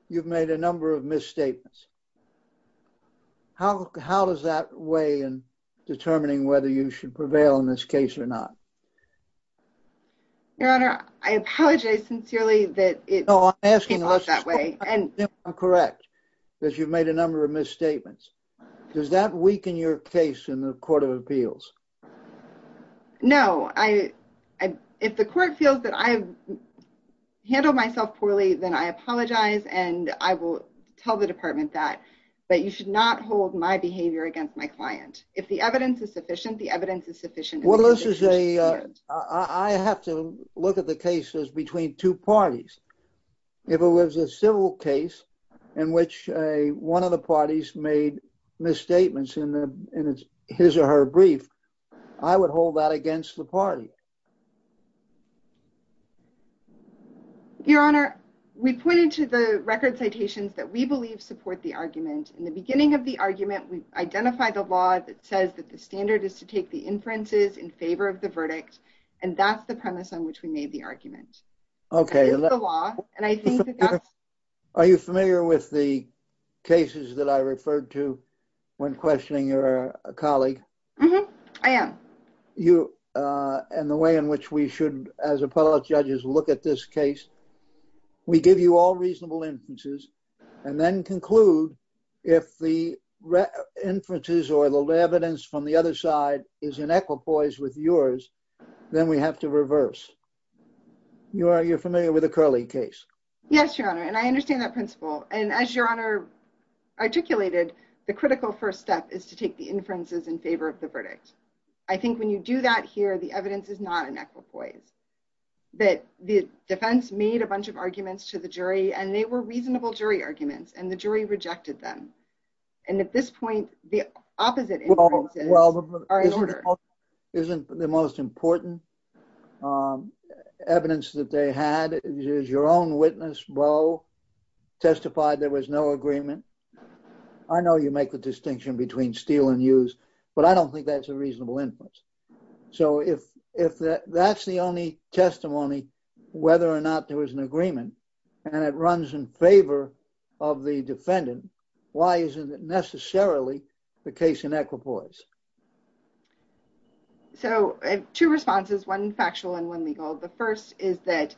you've made a number of misstatements. How does that weigh in determining whether you should prevail in this case or not? Your Honor, I apologize sincerely that it came out that way. No, I'm asking unless it's correct that you've made a number of misstatements. Does that weaken your case in the Court of Appeals? No, I, if the court feels that I've handled myself poorly, then I apologize, and I will tell the department that, that you should not hold my behavior against my client. If the evidence is sufficient, the evidence is sufficient. Well, this is a, I have to look at the cases between two parties. If it was a civil case in which one of the parties made misstatements in his or her brief, I would hold that against the party. Your Honor, we pointed to the record citations that we believe support the argument. In the beginning of the argument, we've identified a law that says that the standard is to take the inferences in favor of the verdict, and that's the premise on which we made the argument. Okay. Are you familiar with the cases that I referred to when questioning your colleague? I am. You, and the way in which we should, as appellate judges, look at this case, we give you all reasonable inferences, and then conclude if the inferences or the evidence from the other side is in equipoise with yours, then we have to reverse. You're familiar with the Curley case? Yes, Your Honor, and I understand that principle. And as Your Honor articulated, the critical first step is to take the inferences in favor of the verdict. I think when you do that here, the evidence is not in equipoise. But the defense made a bunch of arguments to the jury, and they were reasonable jury arguments, and the jury rejected them. And at this point, the opposite inference is... Well, isn't the most important evidence that they had is your own witness, Bo, testified there was no agreement. I know you make the distinction between steal and use, but I don't think that's a reasonable inference. So if that's the only testimony, whether or not there was an agreement, and it runs in favor of the defendant, why isn't it necessarily the case in equipoise? So two responses, one factual and one legal. The first is that,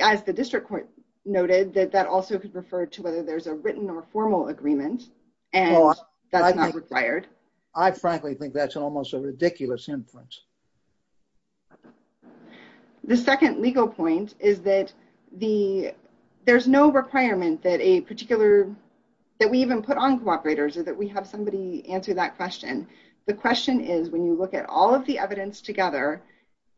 as the district court noted, that that also could refer to whether there's a written or formal agreement, and that's not required. I frankly think that's almost a ridiculous inference. The second legal point is that there's no requirement that a particular... We have somebody answer that question. The question is, when you look at all of the evidence together,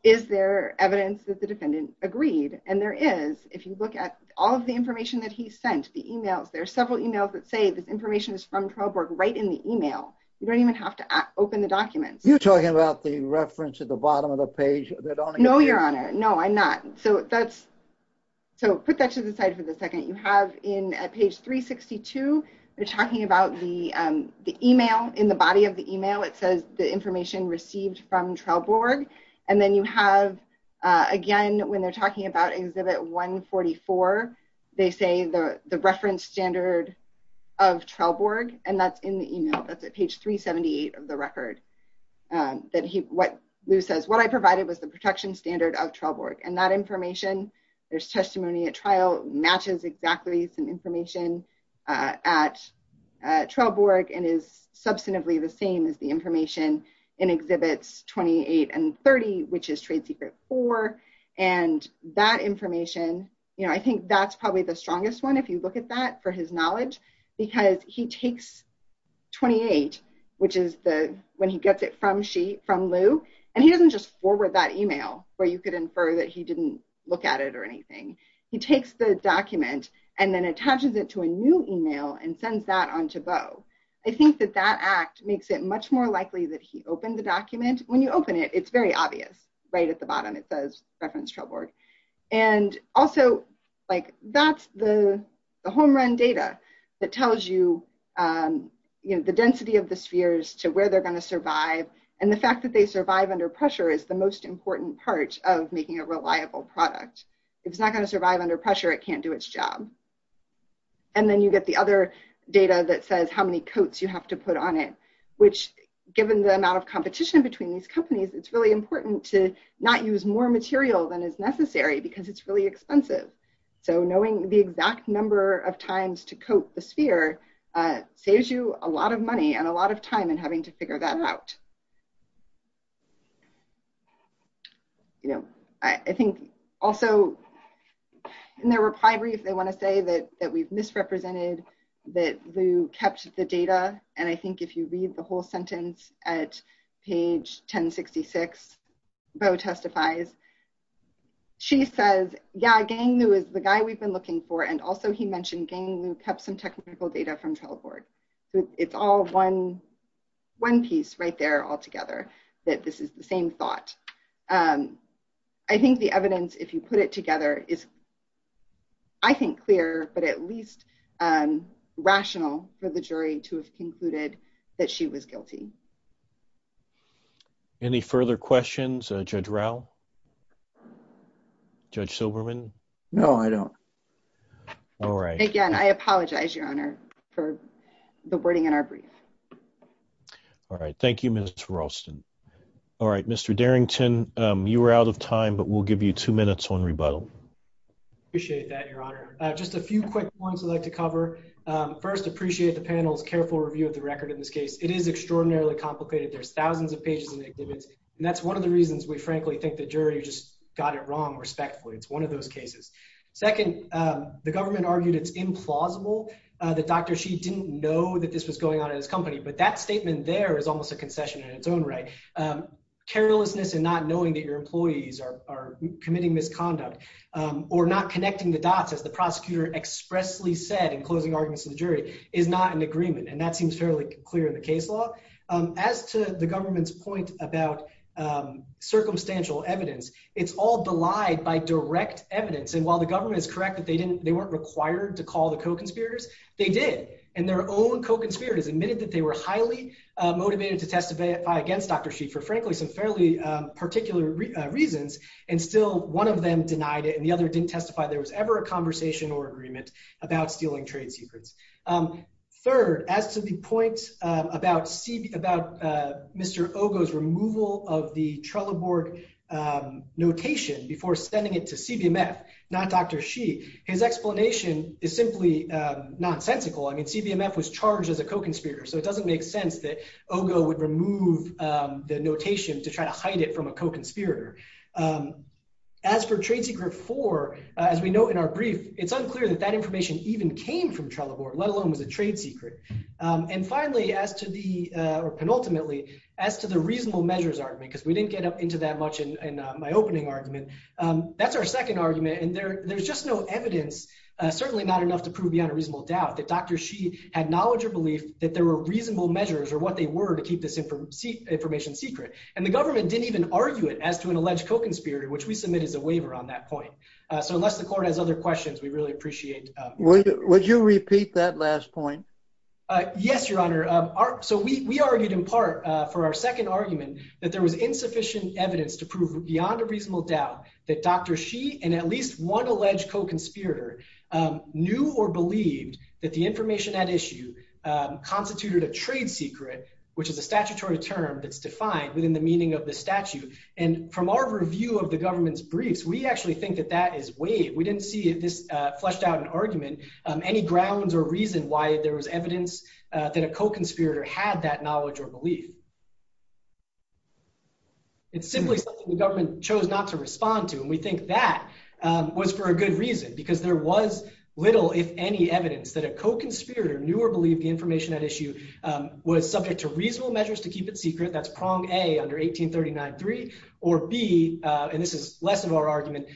is there evidence that the defendant agreed? And there is. If you look at all of the information that he sent, the emails, there's several emails that say this information is from Trailborg right in the email. You don't even have to open the document. You're talking about the reference at the bottom of the page that... No, Your Honor. No, I'm not. So put that to the side for a second. You have in page 362, they're talking about the email. In the body of the email, it says the information received from Trailborg. And then you have, again, when they're talking about Exhibit 144, they say the reference standard of Trailborg, and that's in the email. That's at page 378 of the record. Lou says, what I provided was the protection standard of Trailborg. And that information, there's testimony at trial, matches exactly some information at Trailborg and is substantively the same as the information in Exhibits 28 and 30, which is Trade Secret 4. And that information, I think that's probably the strongest one, if you look at that, for his knowledge, because he takes 28, which is when he gets it from Lou. And he doesn't just forward that email, where you could infer that he didn't look at it or anything. He takes the document and then attaches it to a new email and sends that on to Beau. I think that that act makes it much more likely that he opened the document. When you open it, it's very obvious, right at the bottom. It says reference Trailborg. And also, that's the home run data that tells you the density of the spheres to where they're going to survive. And the fact that they survive under pressure is the important part of making a reliable product. If it's not going to survive under pressure, it can't do its job. And then you get the other data that says how many coats you have to put on it, which given the amount of competition between these companies, it's really important to not use more material than is necessary, because it's really expensive. So knowing the exact number of times to coat the sphere saves you a lot of money and a lot of time in having to figure that out. I think also in their reply brief, they want to say that we've misrepresented that Lou kept the data. And I think if you read the whole sentence at page 1066, Beau testifies. She says, yeah, Gangnu is the guy we've been looking for. And also he mentioned Gangnu kept some technical data from Trellborg. It's all one piece right there all together, that this is the same thought. I think the evidence, if you put it together, is, I think, clear, but at least rational for the jury to have concluded that she was guilty. Any further questions, Judge Rao? Judge Silberman? No, I don't. All right. Again, I apologize, Your Honor, for the wording in our brief. All right, thank you, Ms. Ralston. All right, Mr. Darrington, you were out of time, but we'll give you two minutes on rebuttal. Appreciate that, Your Honor. Just a few quick points I'd like to cover. First, appreciate the panel's careful review of the record in this case. It is extraordinarily complicated. There's thousands of pages in the exhibit, and that's one of the reasons we frankly think the jury just got it wrong respectfully. It's one of those cases. Second, the government argued it's implausible that Dr. Shi didn't know that this was going on in his company, but that statement there is almost a concession in its own right. Carelessness and not knowing that your employees are committing misconduct or not connecting the dots, as the prosecutor expressly said in closing arguments with the jury, is not an agreement, and that seems fairly clear in the case law. As to the government's point about circumstantial evidence, it's all denied by direct evidence, and while the government is correct that they weren't required to call the co-conspirators, they did, and their own co-conspirators admitted that they were highly motivated to testify against Dr. Shi for frankly some fairly particular reasons, and still one of them denied it, and the other didn't testify there was ever a conversation or agreement about stealing trade secrets. Third, as to the point about Mr. Ogo's removal of the Trello board notation before sending it to CBMF, not Dr. Shi, his explanation is simply nonsensical. I mean, CBMF was charged as a co-conspirator, so it doesn't make sense that Ogo would remove the notation to try to hide it from a co-conspirator. As for trade secret four, as we note in our brief, it's unclear that that information even came from Trello board, let alone was a trade secret, and finally, as to the, or penultimately, as to the reasonable measures argument, because we didn't get up into that much in my opening argument, that's our second argument, and there's just no evidence, certainly not enough to prove beyond a reasonable doubt, that Dr. Shi had knowledge or belief that there were reasonable measures or what they were to keep this information secret, and the government didn't even argue it as to an alleged co-conspirator, which we submit as a waiver on that point, so unless the court has other questions, we really appreciate it. Would you repeat that last point? Yes, your honor, so we argued in part for our second argument that there was insufficient evidence to prove beyond a reasonable doubt that Dr. Shi and at least one alleged co-conspirator knew or believed that the information at issue constituted a trade secret, which is a statutory term that's defined within the meaning of the statute, and from our review of the government's briefs, we actually think that that is waived. We didn't see if this fleshed out an argument, any grounds or reason why there was evidence that a co-conspirator had that knowledge or belief. It's simply the government chose not to respond to, and we think that was for a good reason, because there was little, if any, evidence that a co-conspirator knew or believed the information at issue was subject to reasonable or be, and this is less of our argument,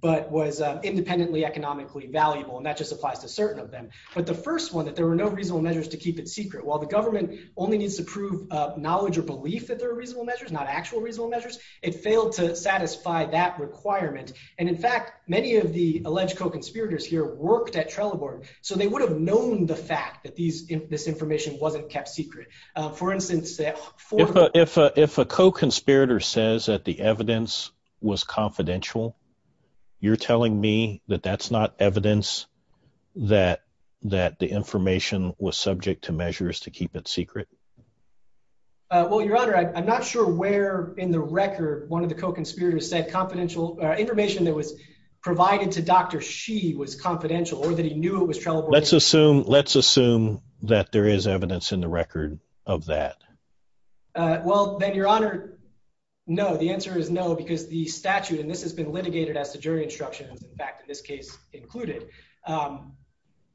but was independently economically valuable, and that just applies to certain of them, but the first one that there were no reasonable measures to keep it secret. While the government only needs to prove knowledge or belief that there are reasonable measures, not actual reasonable measures, it failed to satisfy that requirement, and in fact, many of the alleged co-conspirators here worked at Trelleborg, so they would have known the fact that this information wasn't kept secret. For instance, if a co-conspirator says that the evidence was confidential, you're telling me that that's not evidence that the information was subject to measures to keep it secret? Well, your honor, I'm not sure where in the record one of the co-conspirators said confidential information that was provided to Dr. Xi was confidential or that he knew it was Trelleborg. Let's assume that there is evidence in the record of that. Well, then your honor, no, the answer is no, because the statute, and this has been litigated as the jury instruction, in fact, in this case included,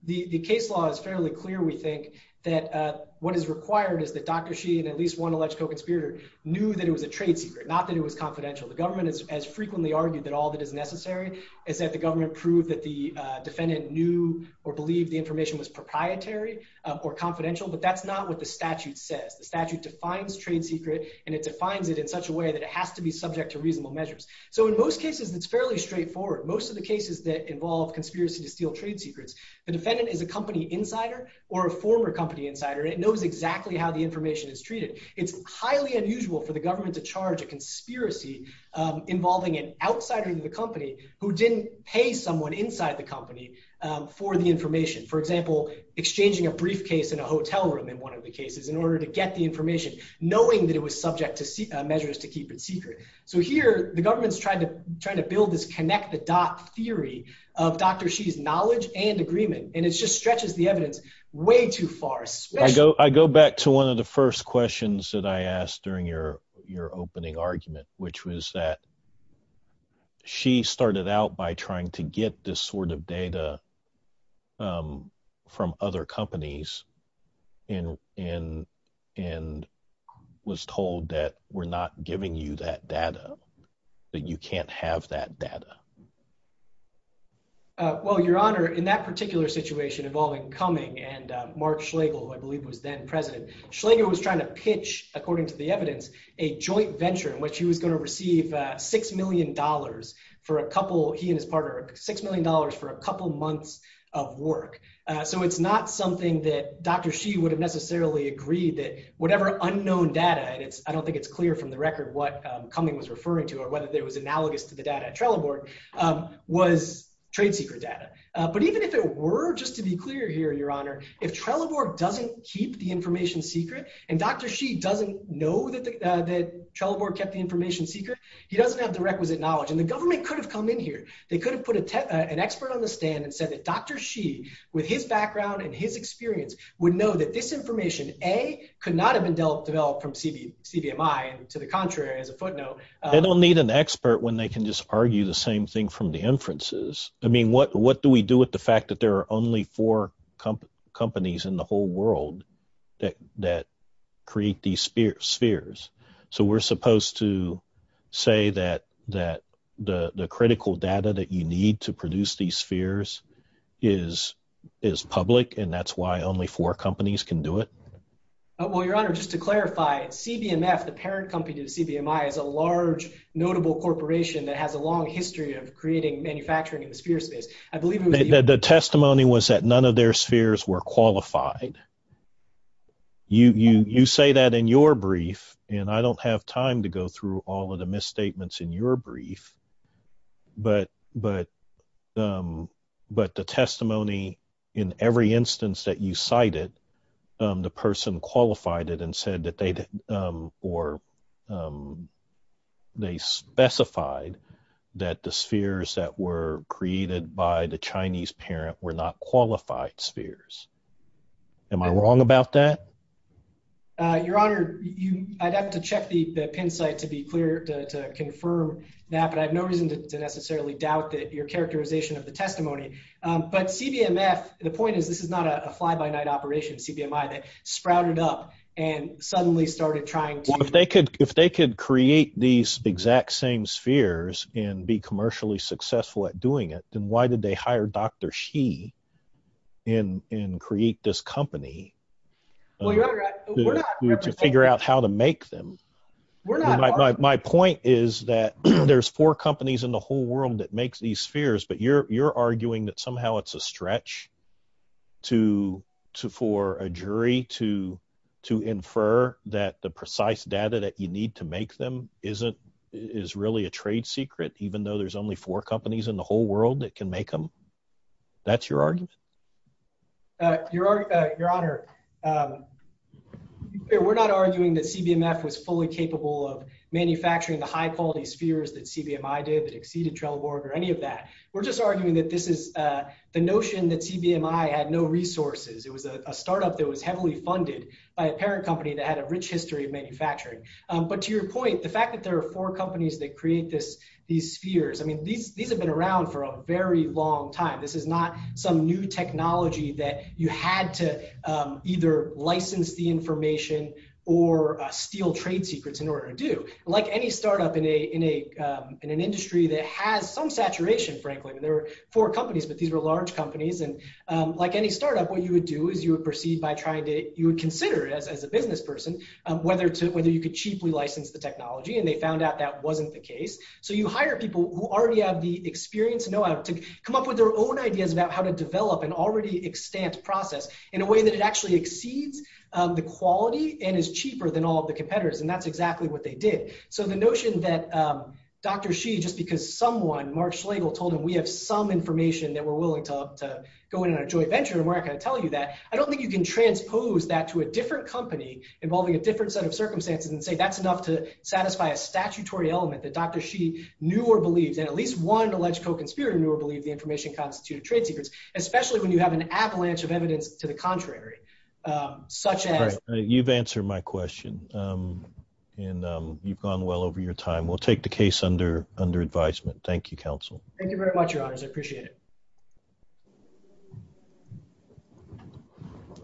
the case law is fairly clear, we think, that what is required is that Dr. Xi and at least one alleged co-conspirator knew that it was a trade secret, not that it was confidential. The government has frequently argued that all that necessary is that the government proved that the defendant knew or believed the information was proprietary or confidential, but that's not what the statute says. The statute defines trade secret, and it defines it in such a way that it has to be subject to reasonable measures. So in most cases, it's fairly straightforward. Most of the cases that involve conspiracy to steal trade secrets, the defendant is a company insider or a former company insider. It knows exactly how the information is treated. It's highly unusual for the government to charge a conspiracy involving an outsider in the company who didn't pay someone inside the company for the information. For example, exchanging a briefcase in a hotel room in one of the cases in order to get the information, knowing that it was subject to measures to keep it secret. So here, the government's trying to build this connect the dots theory of Dr. Xi's knowledge and agreement, and it just stretches the evidence way too far. I go back to one of the first questions that I asked during your opening argument, which was that Xi started out by trying to get this sort of data from other companies and was told that we're not giving you that data, that you can't have that data. Well, Your Honor, in that particular situation involving Cumming and Mark Schlegel, who I pitched, according to the evidence, a joint venture in which he was going to receive $6 million for a couple, he and his partner, $6 million for a couple months of work. So it's not something that Dr. Xi would have necessarily agreed that whatever unknown data, and I don't think it's clear from the record what Cumming was referring to or whether it was analogous to the data at Trelleborg, was trade secret data. But even if it were, just to be clear here, Your Honor, if Trelleborg doesn't keep the information secret and Dr. Xi doesn't know that Trelleborg kept the information secret, he doesn't have the requisite knowledge. And the government could have come in here. They could have put an expert on the stand and said that Dr. Xi, with his background and his experience, would know that this information, A, could not have been developed from CVMI, to the contrary, as a footnote. They don't need an expert when they can just argue the same thing from the inferences. I mean, what do we do with the fact that there are only four companies in the whole world that create these spheres? So we're supposed to say that the critical data that you need to produce these spheres is public, and that's why only four companies can do it? Well, Your Honor, just to clarify, CVMF, the parent company to CVMI, is a large, notable corporation that has a long history of creating, manufacturing sphere space. The testimony was that none of their spheres were qualified. You say that in your brief, and I don't have time to go through all of the misstatements in your brief, but the testimony in every instance that you cited, the person qualified it and said that they specified that the spheres that were created by the Chinese parent were not qualified spheres. Am I wrong about that? Your Honor, I'd have to check the pin site to be clear, to confirm that, but I have no reason to necessarily doubt your characterization of the testimony. But CVMF, the point is, this is not a fly-by-night operation, CVMI, that sprouted up and suddenly started trying to... If they could create these exact same spheres and be commercially successful at doing it, then why did they hire Dr. Xi and create this company to figure out how to make them? My point is that there's four companies in the whole world that you're arguing that somehow it's a stretch for a jury to infer that the precise data that you need to make them is really a trade secret, even though there's only four companies in the whole world that can make them. That's your argument? Your Honor, we're not arguing that CVMF was fully capable of manufacturing the high-quality spheres that CVMI did that exceeded Trellborg or any of this. We're arguing that the notion that CVMI had no resources, it was a startup that was heavily funded by a parent company that had a rich history of manufacturing. But to your point, the fact that there are four companies that create these spheres, these have been around for a very long time. This is not some new technology that you had to either license the information or steal trade secrets in order to do. Like any startup in an industry that has some saturation, frankly, there are four companies, but these are large companies. Like any startup, what you would do is you would proceed by trying to consider, as a business person, whether you could cheaply license the technology, and they found out that wasn't the case. So you hire people who already have the experience and know-how to come up with their own ideas about how to develop an already extant process in a way that it actually exceeds the quality and is cheaper than all of the competitors, and that's exactly what they did. So the notion that Dr. Xi, just because someone, Mark Schlegel, told him we have some information that we're willing to go in and enjoy a venture in America to tell you that, I don't think you can transpose that to a different company involving a different set of circumstances and say that's enough to satisfy a statutory element that Dr. Xi knew or believed, that at least one alleged co-conspirator knew or believed the information constituted trade secrets, especially when you have an avalanche of evidence to the contrary, such as... You've answered my question, and you've gone well over your time. We'll take the case under advisement. Thank you, counsel. Thank you very much, your honors. I appreciate it.